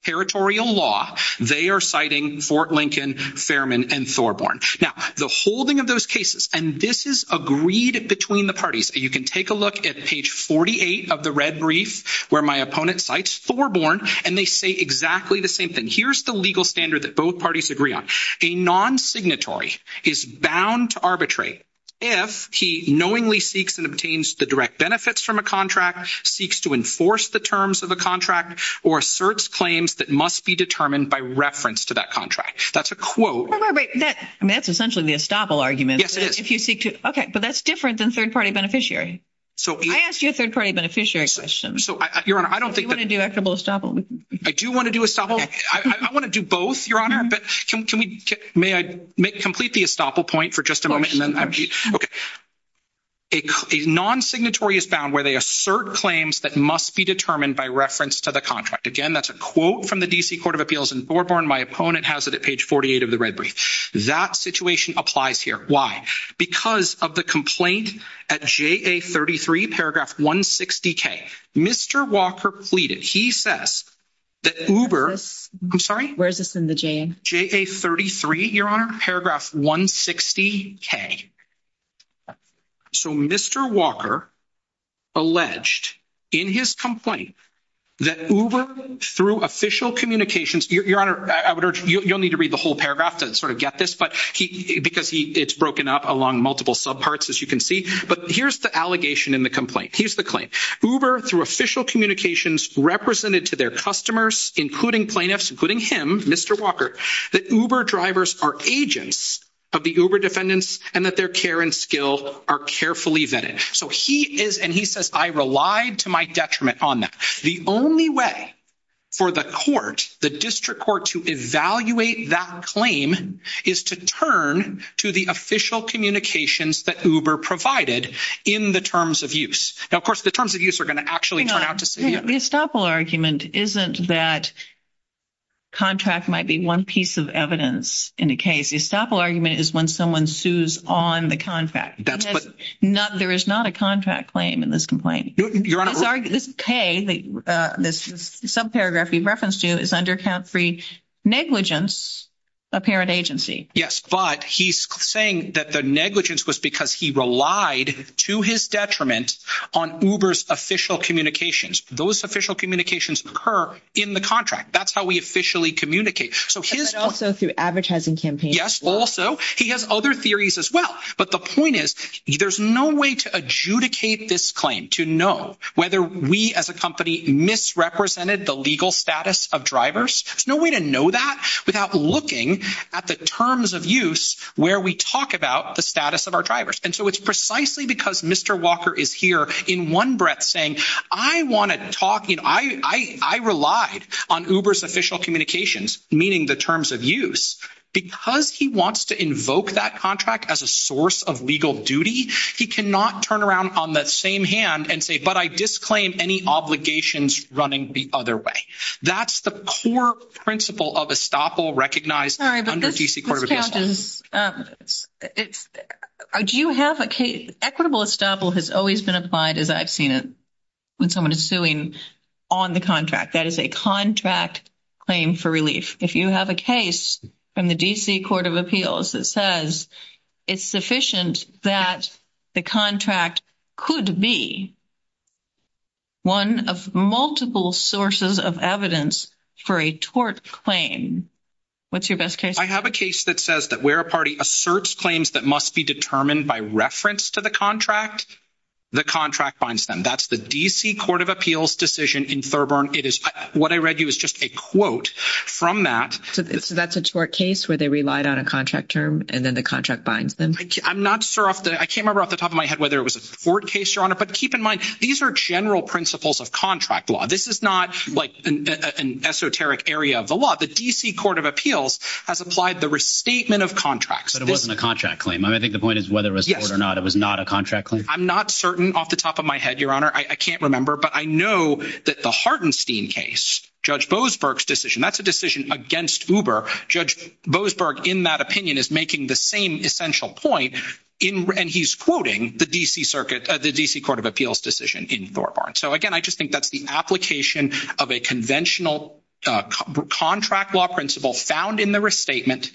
territorial law. They are citing Fort Lincoln, Fairman, and Thorborn. Now, the holding of those cases, and this is agreed between the parties. You can take a look at page 48 of the red brief where my opponent cites Thorborn, and they say exactly the same thing. Here's the legal standard that both parties agree on. A non-signatory is bound to arbitrate if he knowingly seeks and obtains the direct benefits from a contract, seeks to enforce the terms of a contract, or asserts claims that must be determined by reference to that contract. That's a quote. That's essentially the estoppel argument. Yes, it is. Okay, but that's different than third-party beneficiary. I asked you a third-party beneficiary question. So, Your Honor, I don't think that— Or do you want to do equitable estoppel? I do want to do estoppel. I want to do both, Your Honor. But can we—may I complete the estoppel point for just a moment? Okay. A non-signatory is bound where they assert claims that must be determined by reference to the contract. Again, that's a quote from the D.C. Court of Appeals, and Thorborn, my opponent, has it at page 48 of the red brief. That situation applies here. Why? Because of the complaint at JA33, paragraph 160K. Mr. Walker pleaded—he says that Uber— I'm sorry? Where is this in the J? JA33, Your Honor, paragraph 160K. So, Mr. Walker alleged in his complaint that Uber, through official communications— Your Honor, you don't need to read the whole paragraph to sort of get this, because it's broken up along multiple subparts, as you can see. But here's the allegation in the complaint. Here's the claim. Uber, through official communications, represented to their customers, including plaintiffs, including him, Mr. Walker, that Uber drivers are agents of the Uber defendants and that their care and skill are carefully vetted. So he is—and he says, I relied to my detriment on that. The only way for the court, the district court, to evaluate that claim is to turn to the official communications that Uber provided in the terms of use. Now, of course, the terms of use are going to actually turn out to— The estoppel argument isn't that contract might be one piece of evidence in a case. The estoppel argument is when someone sues on the contract. There is not a contract claim in this complaint. Your Honor— This subparagraph you've referenced to is under count three, negligence, apparent agency. Yes, but he's saying that the negligence was because he relied to his detriment on Uber's official communications. Those official communications occur in the contract. That's how we officially communicate. And also through advertising campaigns. Yes, also. He has other theories as well. But the point is there's no way to adjudicate this claim to know whether we as a company misrepresented the legal status of drivers. There's no way to know that without looking at the terms of use where we talk about the status of our drivers. And so it's precisely because Mr. Walker is here in one breath saying, I want to talk— I relied on Uber's official communications, meaning the terms of use. Because he wants to invoke that contract as a source of legal duty, he cannot turn around on that same hand and say, but I disclaim any obligations running the other way. That's the core principle of estoppel recognized under D.C. Court of Appeals. Do you have a case? Equitable estoppel has always been applied, as I've seen it, when someone is suing on the contract. That is a contract claim for relief. If you have a case from the D.C. Court of Appeals that says it's sufficient that the contract could be one of multiple sources of evidence for a tort claim, what's your best case? I have a case that says that where a party asserts claims that must be determined by reference to the contract, the contract binds them. That's the D.C. Court of Appeals decision in Thurber. What I read you is just a quote from that. So that's a tort case where they relied on a contract term, and then the contract binds them? I'm not sure off the—I can't remember off the top of my head whether it was a tort case, Your Honor. But keep in mind, these are general principles of contract law. This is not like an esoteric area of the law. The D.C. Court of Appeals has applied the restatement of contracts. But it wasn't a contract claim. I mean, I think the point is whether it was tort or not. It was not a contract claim? I'm not certain off the top of my head, Your Honor. I can't remember. But I know that the Hartenstein case, Judge Boasberg's decision, that's a decision against Uber. Judge Boasberg, in that opinion, is making the same essential point, and he's quoting the D.C. Circuit—the D.C. Court of Appeals decision in Thurber. So, again, I just think that's the application of a conventional contract law principle found in the restatement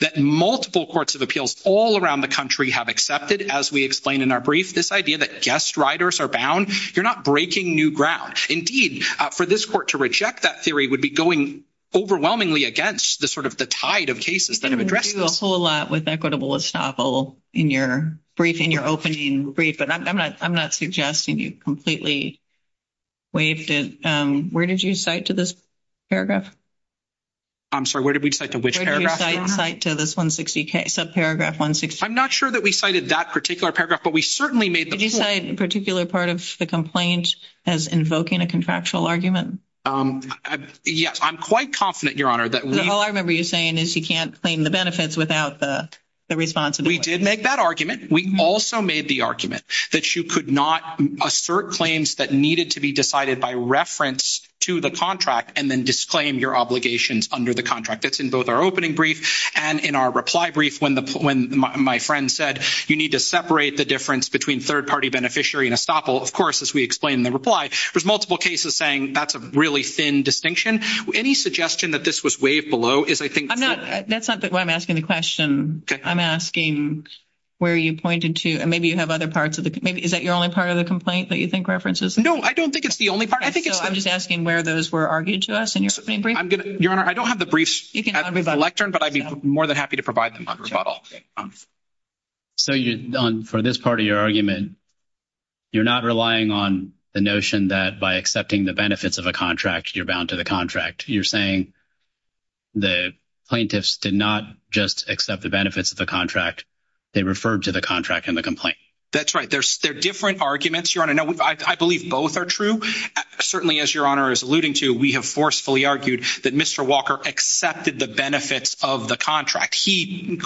that multiple courts of appeals all around the country have accepted, as we explained in our brief, this idea that guest riders are bound. You're not breaking new ground. Indeed, for this court to reject that theory would be going overwhelmingly against the sort of the tide of cases that have addressed— In your brief, in your opening brief, but I'm not suggesting you completely waived it. Where did you cite to this paragraph? I'm sorry, where did we cite to which paragraph, Your Honor? Where did we cite to this 160K, subparagraph 160K? I'm not sure that we cited that particular paragraph, but we certainly made— Did you cite a particular part of the complaint as invoking a contractual argument? Yes. I'm quite confident, Your Honor, that we— What you're saying is you can't claim the benefits without the responsibility. We did make that argument. We also made the argument that you could not assert claims that needed to be decided by reference to the contract and then disclaim your obligations under the contract. That's in both our opening brief and in our reply brief when my friend said, you need to separate the difference between third-party beneficiary and estoppel. Of course, as we explained in the reply, there's multiple cases saying that's a really thin distinction. Any suggestion that this was waived below is, I think— That's not why I'm asking the question. I'm asking where you pointed to. Maybe you have other parts of the—is that your only part of the complaint that you think references? No, I don't think it's the only part. I'm just asking where those were argued to us in your brief. Your Honor, I don't have the briefs at the lectern, but I'd be more than happy to provide them on rebuttal. So, for this part of your argument, you're not relying on the notion that by accepting the benefits of a contract, you're bound to the contract. You're saying the plaintiffs did not just accept the benefits of the contract. They referred to the contract in the complaint. That's right. They're different arguments, Your Honor. I believe both are true. Certainly, as Your Honor is alluding to, we have forcefully argued that Mr. Walker accepted the benefits of the contract. He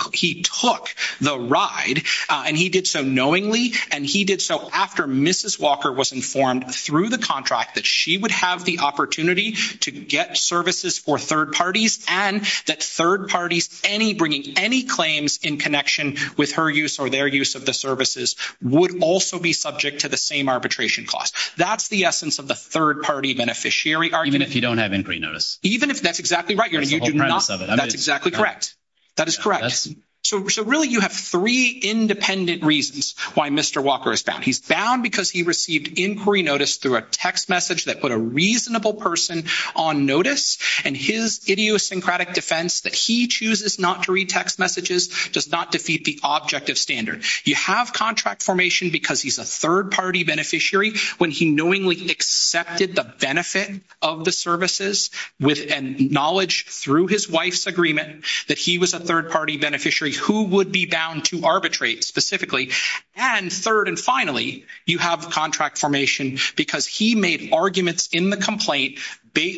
took the ride, and he did so knowingly, and he did so after Mrs. Walker was informed through the contract that she would have the opportunity to get services for third parties, and that third parties bringing any claims in connection with her use or their use of the services would also be subject to the same arbitration cost. That's the essence of the third-party beneficiary argument. Even if you don't have inquiry notice. Even if—that's exactly right, Your Honor. That's exactly correct. That is correct. So really, you have three independent reasons why Mr. Walker is bound. He's bound because he received inquiry notice through a text message that put a reasonable person on notice, and his idiosyncratic defense that he chooses not to read text messages does not defeat the objective standard. You have contract formation because he's a third-party beneficiary when he knowingly accepted the benefit of the services and knowledge through his wife's agreement that he was a third-party beneficiary who would be bound to arbitrate specifically. And third and finally, you have contract formation because he made arguments in the complaint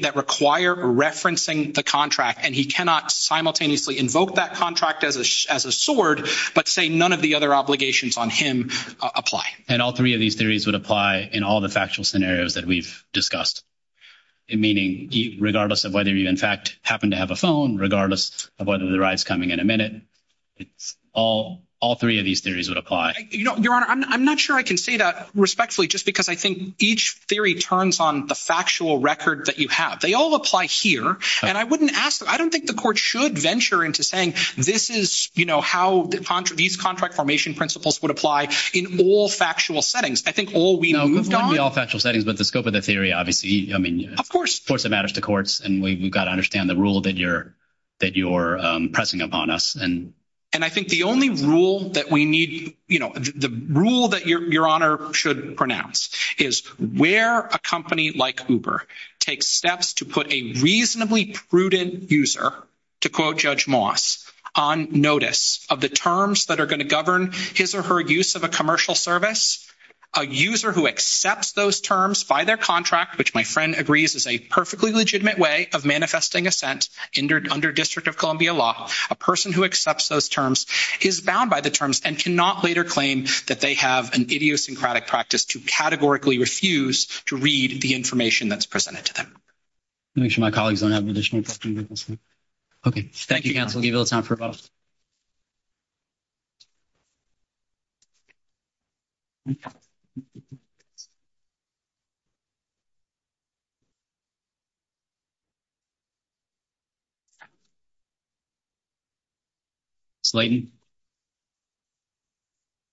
that require referencing the contract, and he cannot simultaneously invoke that contract as a sword but say none of the other obligations on him apply. And all three of these theories would apply in all the factual scenarios that we've discussed, meaning regardless of whether you, in fact, happen to have a phone, regardless of whether the ride's coming in a minute, all three of these theories would apply. Your Honor, I'm not sure I can say that respectfully just because I think each theory turns on the factual record that you have. They all apply here, and I wouldn't ask them. I don't think the court should venture into saying this is, you know, how these contract formation principles would apply in all factual settings. I think all we've moved on— Not all factual settings, but the scope of the theory, obviously. I mean— Of course. Of course it matters to courts, and we've got to understand the rule that you're pressing upon us. And I think the only rule that we need—you know, the rule that Your Honor should pronounce is where a company like Uber takes steps to put a reasonably prudent user, to quote Judge Moss, on notice of the terms that are going to govern his or her use of a commercial service, a user who accepts those terms by their contract, which my friend agrees is a perfectly legitimate way of manifesting a sense under District of Columbia law, a person who accepts those terms is bound by the terms and cannot later claim that they have an idiosyncratic practice to categorically refuse to read the information that's presented to them. Let me make sure my colleagues don't have an additional question. Okay. Thank you, counsel. I'll give you a little time for about a second. Leighton.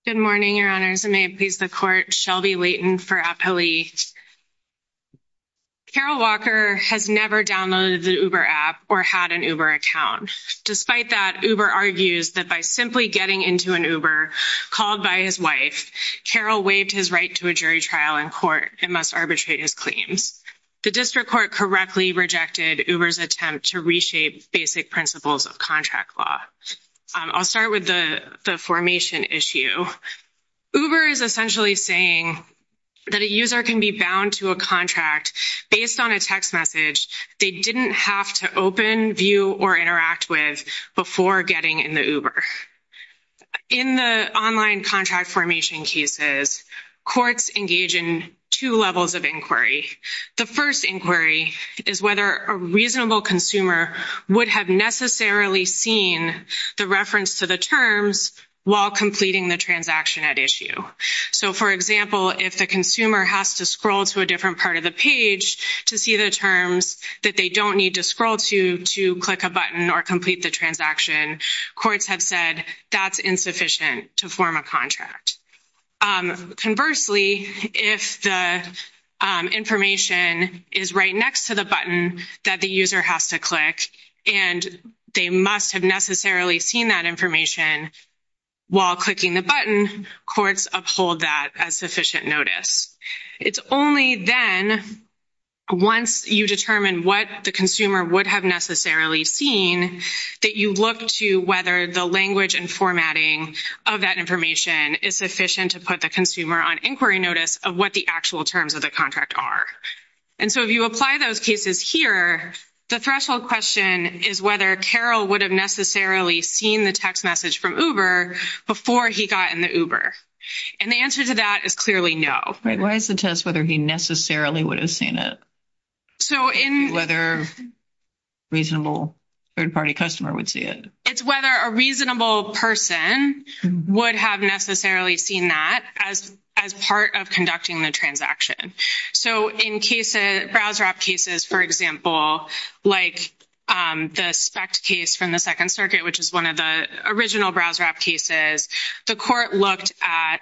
Good morning, Your Honors. May it please the Court, Shelby Leighton for Appalachia. Carol Walker has never downloaded an Uber app or had an Uber account. Despite that, Uber argues that by simply getting into an Uber called by his wife, Carol waived his right to a jury trial in court and must arbitrate his claims. The district court correctly rejected Uber's attempt to reshape basic principles of contract law. I'll start with the formation issue. Uber is essentially saying that a user can be bound to a contract based on a text message they didn't have to open, view, or interact with before getting in the Uber. In the online contract formation cases, courts engage in two levels of inquiry. The first inquiry is whether a reasonable consumer would have necessarily seen the reference to the terms while completing the transaction at issue. So, for example, if a consumer has to scroll to a different part of the page to see the terms that they don't need to scroll to to click a button or complete the transaction, courts have said that's insufficient to form a contract. Conversely, if the information is right next to the button that the user has to click and they must have necessarily seen that information while clicking the button, courts uphold that as sufficient notice. It's only then, once you determine what the consumer would have necessarily seen, that you look to whether the language and formatting of that information is sufficient to put the consumer on inquiry notice of what the actual terms of the contract are. And so if you apply those cases here, the threshold question is whether Carol would have necessarily seen the text message from Uber before he got in the Uber. And the answer to that is clearly no. Why is the test whether he necessarily would have seen it? Whether a reasonable third-party customer would see it. It's whether a reasonable person would have necessarily seen that as part of conducting the transaction. So in browser app cases, for example, like the SPECT case from the Second Circuit, which is one of the original browser app cases, the court looked at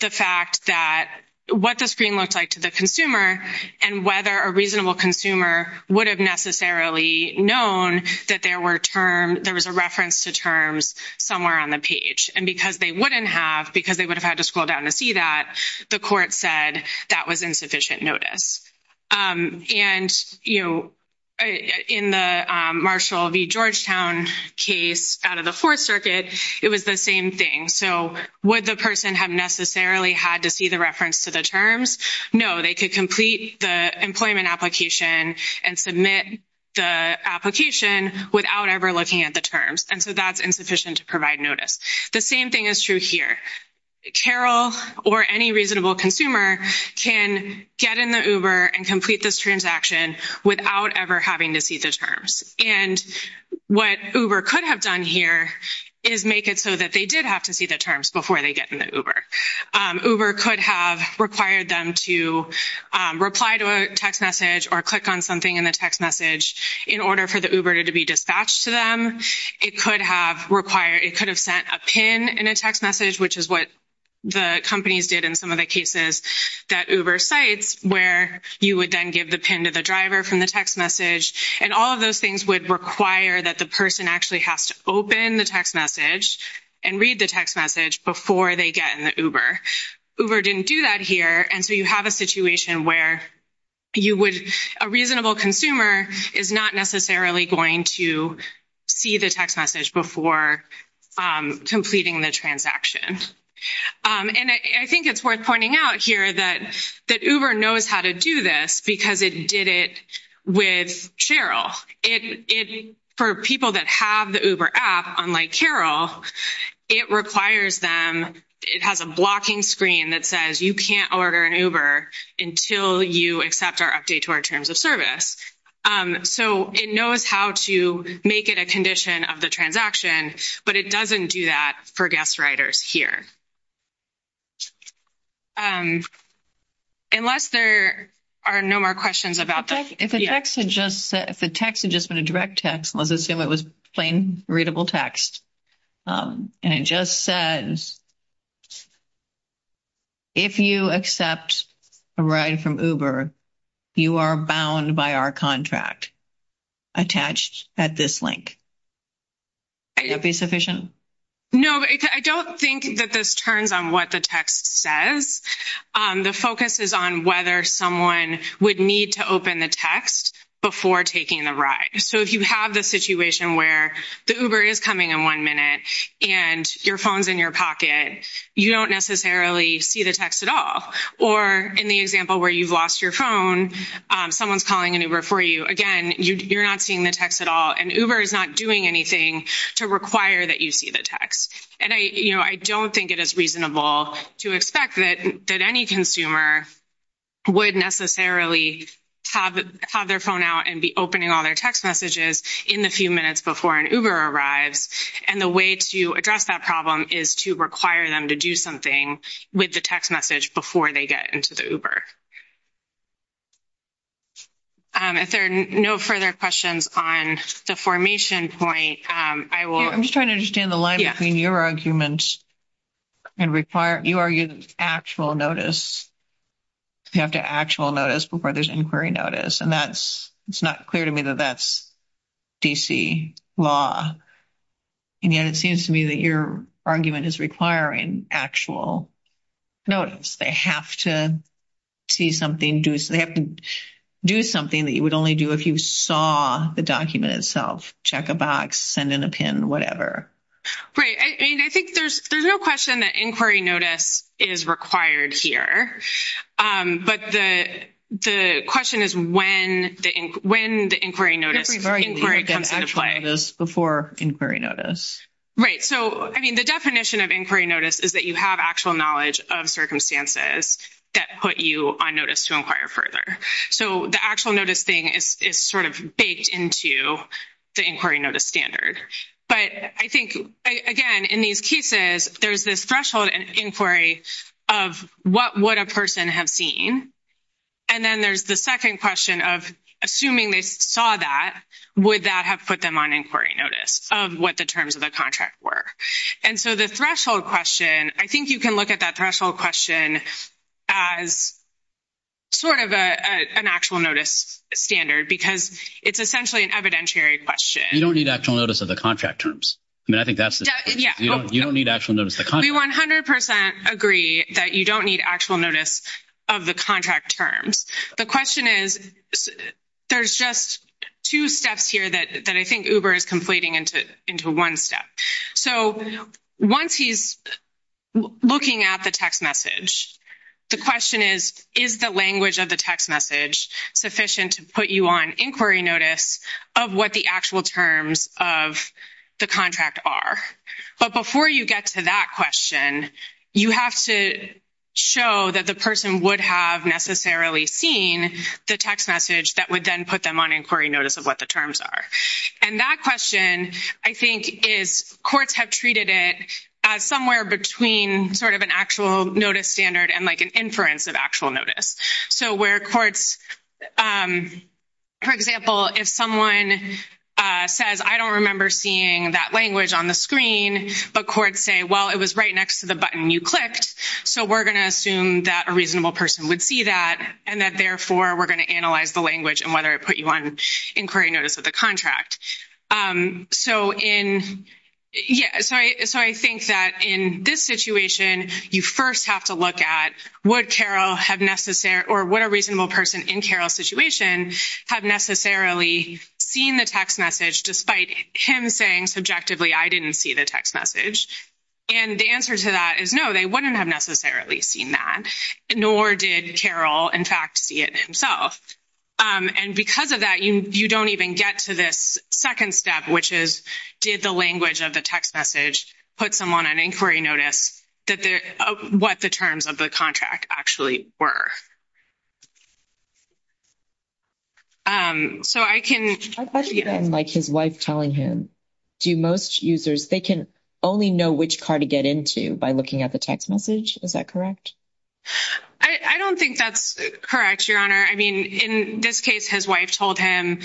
the fact that what the screen looks like to the consumer and whether a reasonable consumer would have necessarily known that there was a reference to terms somewhere on the page. And because they wouldn't have, because they would have had to scroll down to see that, the court said that was insufficient notice. And, you know, in the Marshall v. Georgetown case out of the Fourth Circuit, it was the same thing. So would the person have necessarily had to see the reference to the terms? No, they could complete the employment application and submit the application without ever looking at the terms. And so that's insufficient to provide notice. The same thing is true here. Carol or any reasonable consumer can get in the Uber and complete this transaction without ever having to see the terms. And what Uber could have done here is make it so that they did have to see the terms before they get in the Uber. Uber could have required them to reply to a text message or click on something in the text message in order for the Uber to be dispatched to them. It could have sent a PIN in a text message, which is what the companies did in some of the cases that Uber cites, where you would then give the PIN to the driver from the text message. And all of those things would require that the person actually has to open the text message and read the text message before they get in the Uber. Uber didn't do that here, and so you have a situation where a reasonable consumer is not necessarily going to see the text message before completing the transaction. And I think it's worth pointing out here that Uber knows how to do this because it did it with Carol. For people that have the Uber app, unlike Carol, it requires them, it has a blocking screen that says you can't order an Uber until you accept our update to our terms of service. So it knows how to make it a condition of the transaction, but it doesn't do that for guest riders here. Unless there are no more questions about this. If the text had just been a direct text, let's assume it was plain, readable text, and it just says, if you accept a ride from Uber, you are bound by our contract attached at this link. Would that be sufficient? No, I don't think that this turns on what the text says. The focus is on whether someone would need to open the text before taking the ride. So if you have the situation where the Uber is coming in one minute and your phone's in your pocket, you don't necessarily see the text at all. Or in the example where you've lost your phone, someone's calling an Uber for you. Again, you're not seeing the text at all, and Uber is not doing anything to require that you see the text. I don't think it is reasonable to expect that any consumer would necessarily have their phone out and be opening all their text messages in the few minutes before an Uber arrives. And the way to address that problem is to require them to do something with the text message before they get into the Uber. If there are no further questions on the formation point, I will... I don't understand the line between your argument and you arguing actual notice. You have to have actual notice before there's inquiry notice, and it's not clear to me that that's D.C. law. And yet it seems to me that your argument is requiring actual notice. They have to do something that you would only do if you saw the document itself. Check a box, send in a pin, whatever. Right. I mean, I think there's no question that inquiry notice is required here. But the question is when the inquiry notice... Before inquiry notice. Right. So, I mean, the definition of inquiry notice is that you have actual knowledge of circumstances that put you on notice to inquire further. So the actual notice thing is sort of baked into the inquiry notice standard. But I think, again, in these cases, there's this threshold in inquiry of what would a person have seen. And then there's the second question of assuming they saw that, would that have put them on inquiry notice of what the terms of the contract were? And so the threshold question, I think you can look at that threshold question as sort of an actual notice standard because it's essentially an evidentiary question. You don't need actual notice of the contract terms. I mean, I think that's the... Yeah. You don't need actual notice of the contract. We 100% agree that you don't need actual notice of the contract terms. The question is there's just two steps here that I think Uber is completing into one step. So once he's looking at the text message, the question is, is the language of the text message sufficient to put you on inquiry notice of what the actual terms of the contract are? But before you get to that question, you have to show that the person would have necessarily seen the text message that would then put them on inquiry notice of what the terms are. And that question, I think, is courts have treated it as somewhere between sort of an actual notice standard and like an inference of actual notice. So where courts, for example, if someone says, I don't remember seeing that language on the screen, but courts say, well, it was right next to the button you clicked. So we're going to assume that a reasonable person would see that and that, therefore, we're going to analyze the language and whether it put you on inquiry notice of the contract. So in—yeah, so I think that in this situation, you first have to look at would Carol have necessary—or would a reasonable person in Carol's situation have necessarily seen the text message despite him saying subjectively, I didn't see the text message? And the answer to that is no, they wouldn't have necessarily seen that, nor did Carol, in fact, see it himself. And because of that, you don't even get to this second step, which is did the language of the text message put someone on inquiry notice of what the terms of the contract actually were? So I can— Like his wife telling him, do most users—they can only know which car to get into by looking at the text message. Is that correct? I don't think that's correct, Your Honor. I mean, in this case, his wife told him,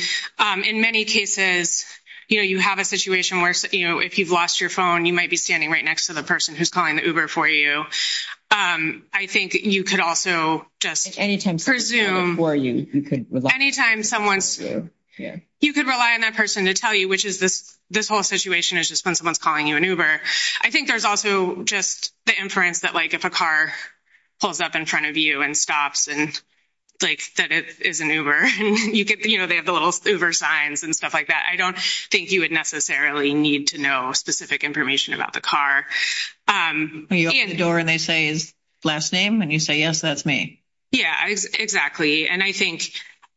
in many cases, you know, you have a situation where, you know, if you've lost your phone, you might be standing right next to the person who's calling the Uber for you. I think you could also just presume— Anytime someone's calling for you, you could rely on that person. Anytime someone's—you could rely on that person to tell you, which is this whole situation is just when someone's calling you an Uber. I think there's also just the inference that, like, if a car pulls up in front of you and stops and, like, said it's an Uber, you get—you know, they have the little Uber signs and stuff like that. I don't think you would necessarily need to know specific information about the car. You open the door and they say his last name, and you say, yes, that's me. Yeah, exactly, and I think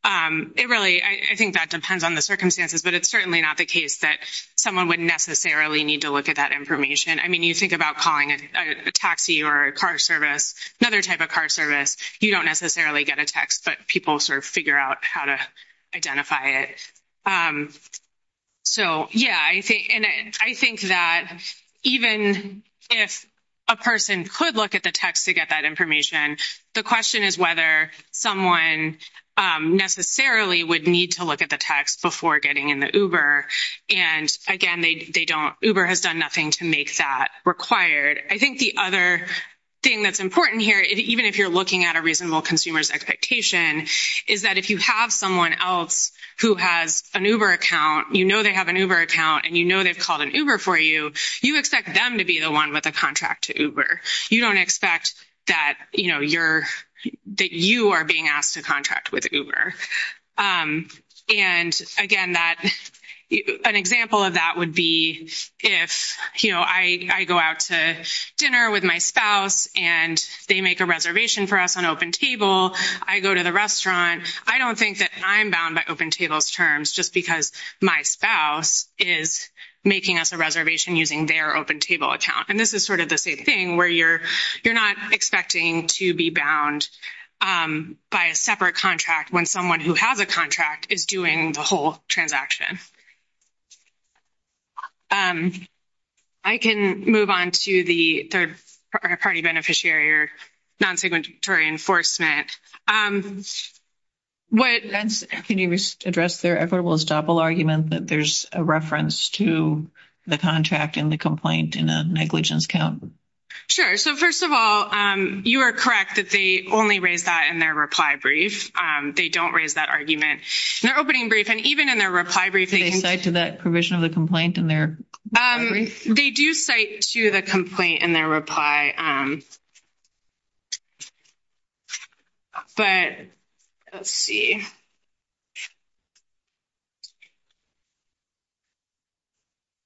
it really—I think that depends on the circumstances, but it's certainly not the case that someone would necessarily need to look at that information. I mean, you think about calling a taxi or a car service, another type of car service, you don't necessarily get a text, but people sort of figure out how to identify it. So, yeah, and I think that even if a person could look at the text to get that information, the question is whether someone necessarily would need to look at the text before getting in the Uber. And, again, they don't—Uber has done nothing to make that required. I think the other thing that's important here, even if you're looking at a reasonable consumer's expectation, is that if you have someone else who has an Uber account, you know they have an Uber account and you know they've called an Uber for you, you expect them to be the one with a contract to Uber. You don't expect that, you know, you're—that you are being asked to contract with Uber. And, again, that—an example of that would be if, you know, I go out to dinner with my spouse and they make a reservation for us on OpenTable, I go to the restaurant, I don't think that I'm bound by OpenTable's terms just because my spouse is making us a reservation using their OpenTable account. And this is sort of the same thing where you're not expecting to be bound by a separate contract when someone who has a contract is doing the whole transaction. I can move on to the third-party beneficiary or non-segmentary enforcement. Can you address their effortless doppel argument that there's a reference to the contract and the complaint in a negligence count? Sure. So, first of all, you are correct that they only raise that in their reply brief. They don't raise that argument in their opening brief. And even in their reply brief— Do they cite to that provision of the complaint in their reply brief? They do cite to the complaint in their reply. But let's see.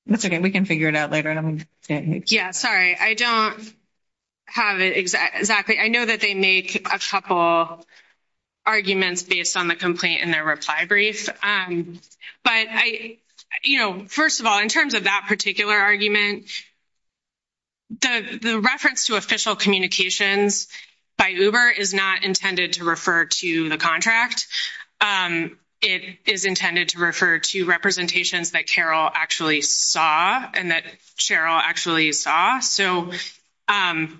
That's okay. We can figure it out later. Yeah. Sorry. I don't have it exactly. I know that they make a couple arguments based on the complaint in their reply brief. But, you know, first of all, in terms of that particular argument, the reference to official communications by Uber is not intended to refer to the contract. It is intended to refer to representations that Carol actually saw and that Cheryl actually saw. So, I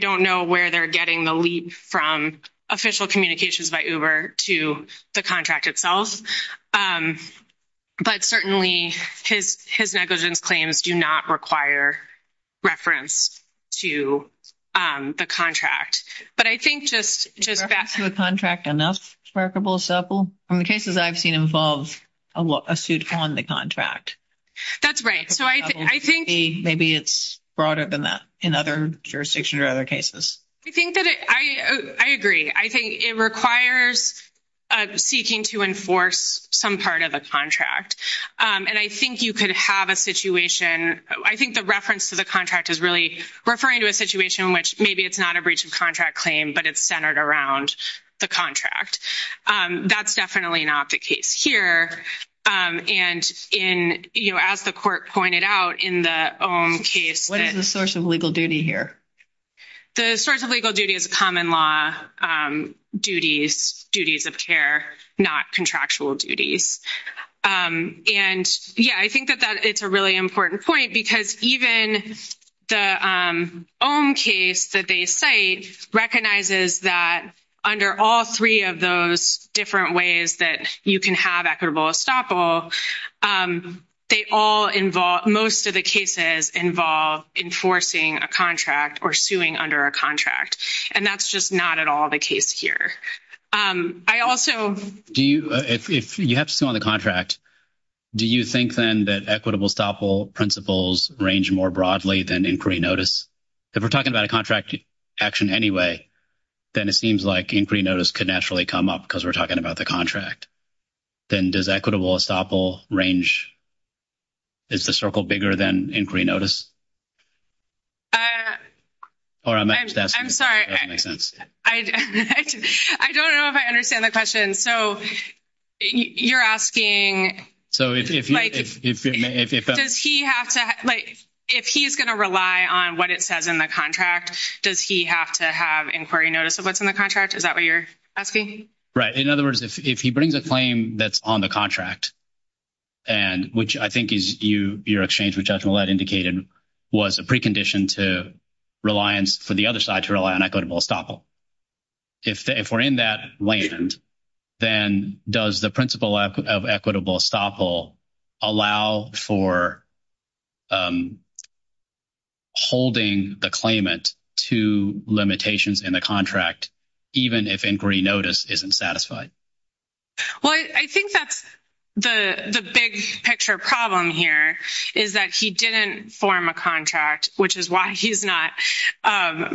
don't know where they're getting the leap from official communications by Uber to the contract itself. But, certainly, his negligence claims do not require reference to the contract. But I think just that— Is the reference to the contract enough, for example, in the cases I've seen involve a suit on the contract? That's right. So, I think— Maybe it's broader than that in other jurisdictions or other cases. I think that it—I agree. I think it requires seeking to enforce some part of a contract. And I think you could have a situation—I think the reference to the contract is really referring to a situation in which maybe it's not a breach of contract claim, but it's centered around the contract. That's definitely not the case here. And, you know, as the court pointed out in the Ohm case— What is the source of legal duty here? The source of legal duty is common law duties, duties of care, not contractual duties. And, yeah, I think that it's a really important point because even the Ohm case that they cite recognizes that under all three of those different ways that you can have equitable estoppel, they all involve—most of the cases involve enforcing a contract or suing under a contract. And that's just not at all the case here. I also— Do you—if you have to sue under a contract, do you think then that equitable estoppel principles range more broadly than inquiry notice? If we're talking about a contract action anyway, then it seems like inquiry notice could naturally come up because we're talking about the contract. Then does equitable estoppel range—is the circle bigger than inquiry notice? I'm sorry. That makes sense. I don't know if I understand the question. So you're asking— So if— Does he have to—like, if he's going to rely on what it says in the contract, does he have to have inquiry notice of what's in the contract? Is that what you're asking? Right. In other words, if he brings a claim that's on the contract, which I think is your exchange with Judge Millett indicated was a precondition to reliance for the other side to rely on equitable estoppel. If we're in that land, then does the principle of equitable estoppel allow for holding the claimant to limitations in the contract even if inquiry notice isn't satisfied? Well, I think that's the big picture problem here is that he didn't form a contract, which is why he's not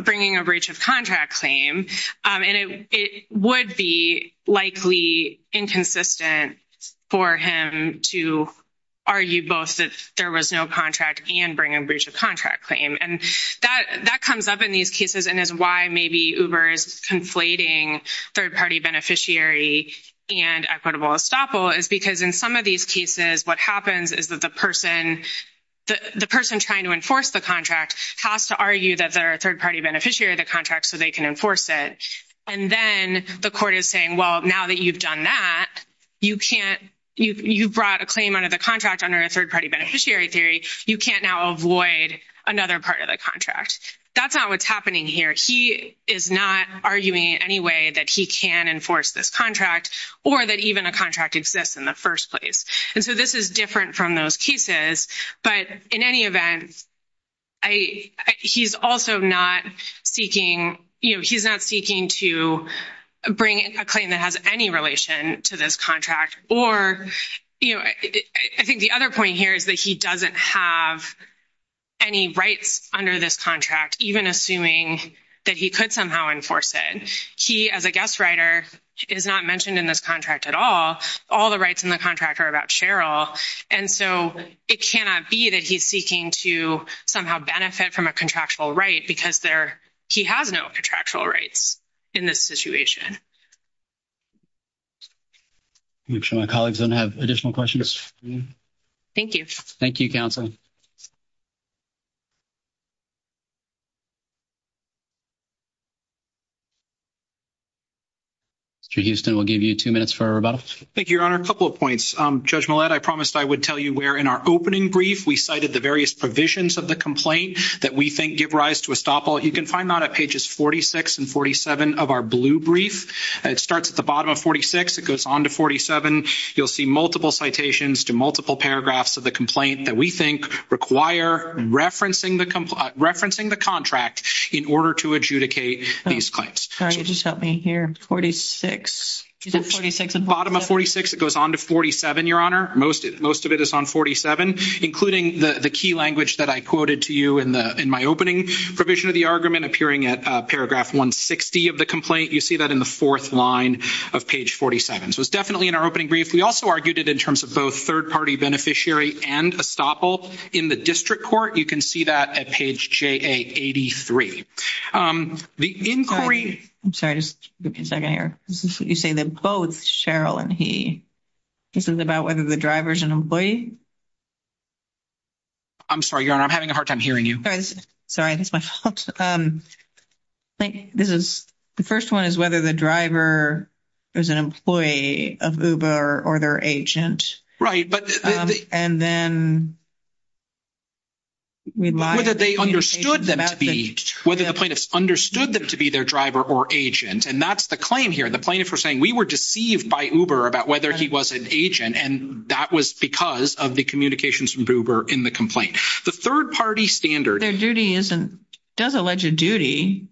bringing a breach of contract claim. And it would be likely inconsistent for him to argue both that there was no contract and bring a breach of contract claim. And that comes up in these cases and is why maybe Uber is conflating third-party beneficiary and equitable estoppel is because in some of these cases what happens is that the person trying to enforce the contract has to argue that they're a third-party beneficiary of the contract so they can enforce it. And then the court is saying, well, now that you've done that, you brought a claim under the contract under a third-party beneficiary theory, you can't now avoid another part of the contract. That's not what's happening here. He is not arguing in any way that he can enforce this contract or that even the contract exists in the first place. And so this is different from those cases. But in any event, he's also not seeking to bring a claim that has any relation to this contract or, you know, I think the other point here is that he doesn't have any rights under this contract, even assuming that he could somehow enforce it. He, as a guest writer, is not mentioned in this contract at all. All the rights in the contract are about Cheryl. And so it cannot be that he's seeking to somehow benefit from a contractual right because he has no contractual rights in this situation. Make sure my colleagues don't have additional questions. Thank you. Thank you, counsel. Mr. Houston, we'll give you two minutes for our rebuttal. Thank you, Your Honor. A couple of points. Judge Millett, I promised I would tell you where in our opening brief we cited the various provisions of the complaint that we think give rise to estoppel. You can find that on pages 46 and 47 of our blue brief. It starts at the bottom of 46. It goes on to 47. You'll see multiple citations to multiple paragraphs of the complaint that we think require referencing the contract in order to adjudicate these claims. Just help me here. Is it 46 and 47? The bottom of 46. It goes on to 47, Your Honor. Most of it is on 47, including the key language that I quoted to you in my opening provision of the argument appearing at paragraph 160 of the complaint. You see that in the fourth line of page 47. So it's definitely in our opening brief. We also argued it in terms of both third-party beneficiary and estoppel in the district court. You can see that at page JA83. The inquiry— I'm sorry. Just give me a second here. You say that both Cheryl and he. This is about whether the driver is an employee? I'm sorry, Your Honor. I'm having a hard time hearing you. Sorry. This is—the first one is whether the driver is an employee of Uber or their agent. Right, but— And then— Whether they understood them to be—whether the plaintiff understood them to be their driver or agent, and that's the claim here. The plaintiff was saying, we were deceived by Uber about whether he was an agent, and that was because of the communications from Uber in the complaint. The third-party standard— But their duty isn't—does allege a duty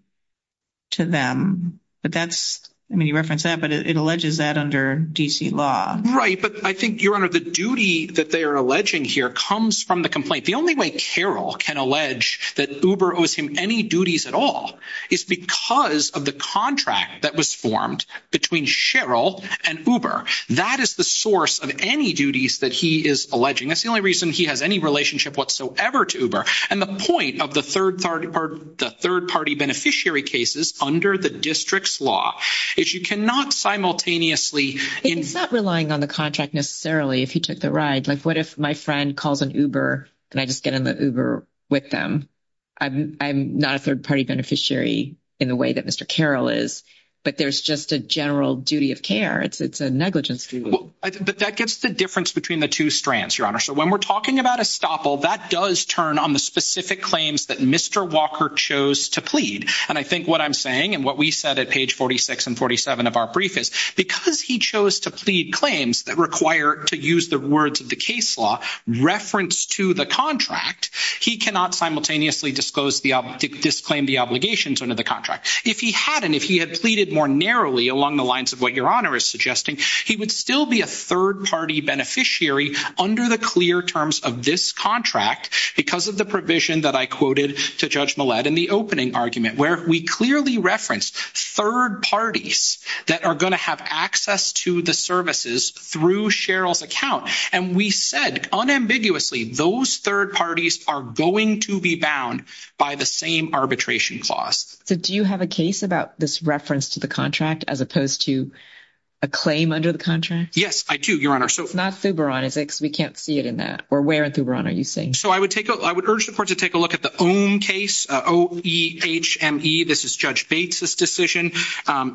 to them, but that's—I mean, you referenced that, but it alleges that under D.C. law. Right, but I think, Your Honor, the duty that they're alleging here comes from the complaint. The only way Carol can allege that Uber owes him any duties at all is because of the contract that was formed between Cheryl and Uber. That is the source of any duties that he is alleging. That's the only reason he has any relationship whatsoever to Uber. And the point of the third-party beneficiary cases under the district's law is you cannot simultaneously— It's not relying on the contract necessarily if he took the ride. Like, what if my friend calls an Uber, and I just get in the Uber with them? I'm not a third-party beneficiary in the way that Mr. Carol is, but there's just a general duty of care. It's a negligence suit. But that gets the difference between the two strands, Your Honor. So when we're talking about estoppel, that does turn on the specific claims that Mr. Walker chose to plead. And I think what I'm saying and what we said at page 46 and 47 of our brief is, because he chose to plead claims that require, to use the words of the case law, reference to the contract, he cannot simultaneously disclaim the obligations under the contract. If he hadn't, if he had pleaded more narrowly along the lines of what Your Honor is suggesting, he would still be a third-party beneficiary under the clear terms of this contract because of the provision that I quoted to Judge Millett in the opening argument, where we clearly referenced third parties that are going to have access to the services through Cheryl's account. And we said, unambiguously, those third parties are going to be bound by the same arbitration clause. So do you have a case about this reference to the contract as opposed to a claim under the contract? Yes, I do, Your Honor. It's not Thubaran, is it? Because we can't see it in that. Or where in Thubaran are you seeing it? So I would urge the Court to take a look at the Ohm case, O-E-H-M-E. This is Judge Bates' decision.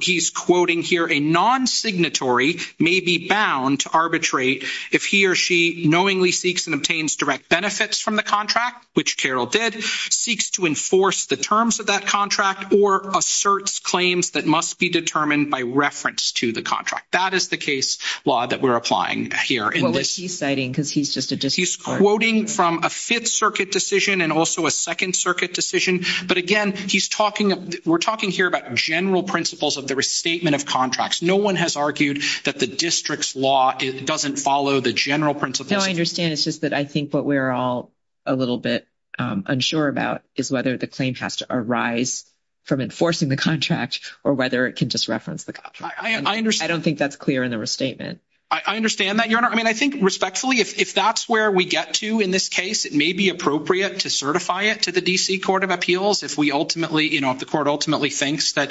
He's quoting here, a non-signatory may be bound to arbitrate if he or she knowingly seeks and obtains direct benefits from the contract, which Cheryl did, seeks to enforce the terms of that contract or asserts claims that must be determined by reference to the contract. That is the case law that we're applying here. Well, what is he citing? Because he's just a district court. He's quoting from a Fifth Circuit decision and also a Second Circuit decision. But again, he's talking—we're talking here about general principles of the restatement of contracts. No one has argued that the district's law doesn't follow the general principles. No, I understand. It's just that I think what we're all a little bit unsure about is whether the claim has to arise from enforcing the contract or whether it can just reference the contract. I understand. I don't think that's clear in the restatement. I understand that, Your Honor. I mean, I think respectfully, if that's where we get to in this case, it may be appropriate to certify it to the D.C. Court of Appeals if we ultimately, you know, if the Court ultimately thinks that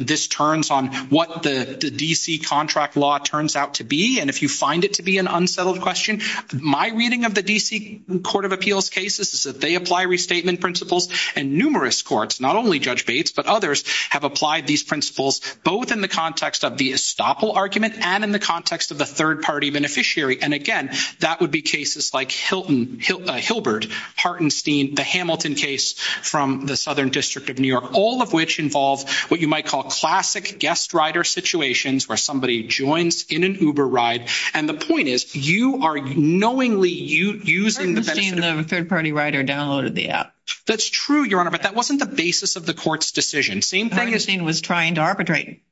this turns on what the D.C. contract law turns out to be. And if you find it to be an unsettled question, my reading of the D.C. Court of Appeals cases is that they apply restatement principles. And numerous courts, not only Judge Bates, but others, have applied these principles, both in the context of the estoppel argument and in the context of the third-party beneficiary. And again, that would be cases like Hilbert, Hartenstein, the Hamilton case from the Southern District of New York, all of which involve what you might call classic guest rider situations where somebody joins in an Uber ride. And the point is, you are knowingly using— Hartenstein, the third-party rider, downloaded the app. That's true, Your Honor, but that wasn't the basis of the court's decision. Hartenstein was trying to arbitrate.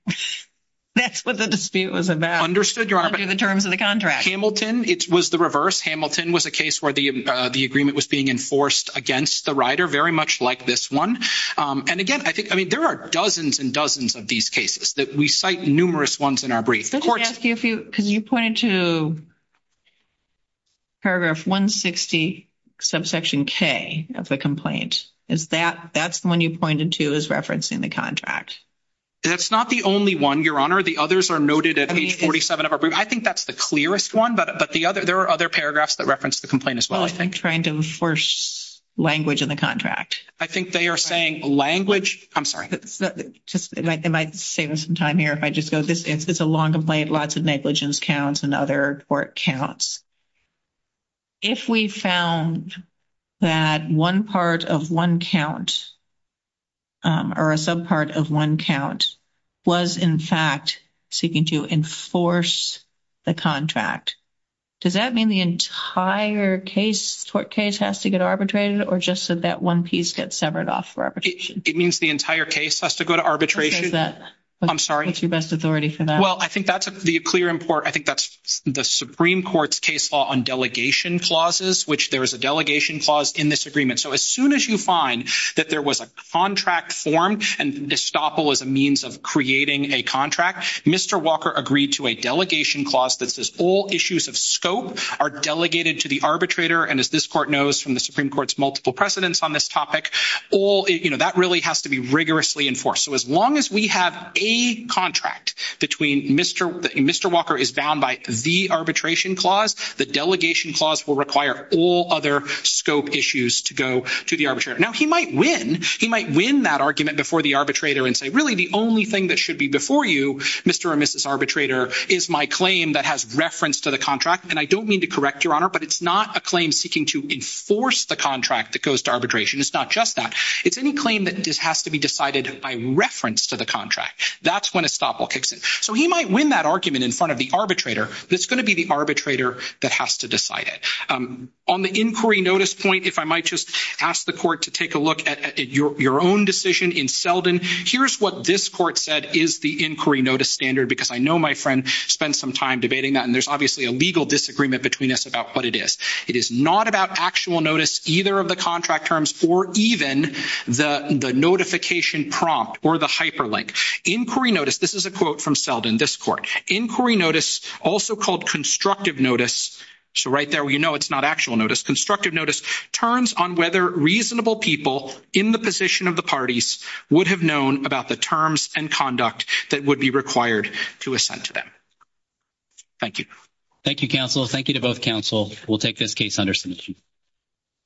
That's what the dispute was about. Understood, Your Honor. Under the terms of the contract. Hamilton, it was the reverse. Hamilton was a case where the agreement was being enforced against the rider, very much like this one. And again, I think—I mean, there are dozens and dozens of these cases. We cite numerous ones in our brief. Let me ask you a few. Because you pointed to paragraph 160, subsection K of the complaint. Is that—that's the one you pointed to as referencing the contract? That's not the only one, Your Honor. The others are noted at page 47 of our brief. I think that's the clearest one, but there are other paragraphs that reference the complaint as well. Well, I think trying to enforce language in the contract. I think they are saying language. I'm sorry. Am I saving some time here? If I just go—this is a long complaint. Lots of negligence counts and other court counts. If we found that one part of one count or a subpart of one count was, in fact, seeking to enforce the contract, does that mean the entire case, court case, has to get arbitrated or just that that one piece gets severed off for arbitration? It means the entire case has to go to arbitration. I'm sorry. What's your best authority for that? Well, I think that's the clear—I think that's the Supreme Court's case law on delegation clauses, which there is a delegation clause in this agreement. So as soon as you find that there was a contract formed, and destoppel is a means of creating a contract, Mr. Walker agreed to a delegation clause that says all issues of scope are delegated to the arbitrator. And as this court knows from the Supreme Court's multiple precedents on this topic, that really has to be rigorously enforced. So as long as we have a contract between—Mr. Walker is bound by the arbitration clause. The delegation clause will require all other scope issues to go to the arbitrator. Now, he might win. He might win that argument before the arbitrator and say, really, the only thing that should be before you, Mr. or Mrs. Arbitrator, is my claim that has reference to the contract. And I don't mean to correct, Your Honor, but it's not a claim seeking to enforce the contract that goes to arbitration. It's not just that. It's any claim that has to be decided by reference to the contract. That's when destoppel kicks in. So he might win that argument in front of the arbitrator. It's going to be the arbitrator that has to decide it. On the inquiry notice point, if I might just ask the court to take a look at your own decision in Selden. Here's what this court said is the inquiry notice standard because I know my friend spent some time debating that. And there's obviously a legal disagreement between us about what it is. It is not about actual notice, either of the contract terms, or even the notification prompt or the hyperlink. Inquiry notice, this is a quote from Selden, this court. Inquiry notice, also called constructive notice, so right there where you know it's not actual notice. Constructive notice turns on whether reasonable people in the position of the parties would have known about the terms and conduct that would be required to assent to them. Thank you. Thank you, counsel. Thank you to both counsel. We'll take this case, Henderson.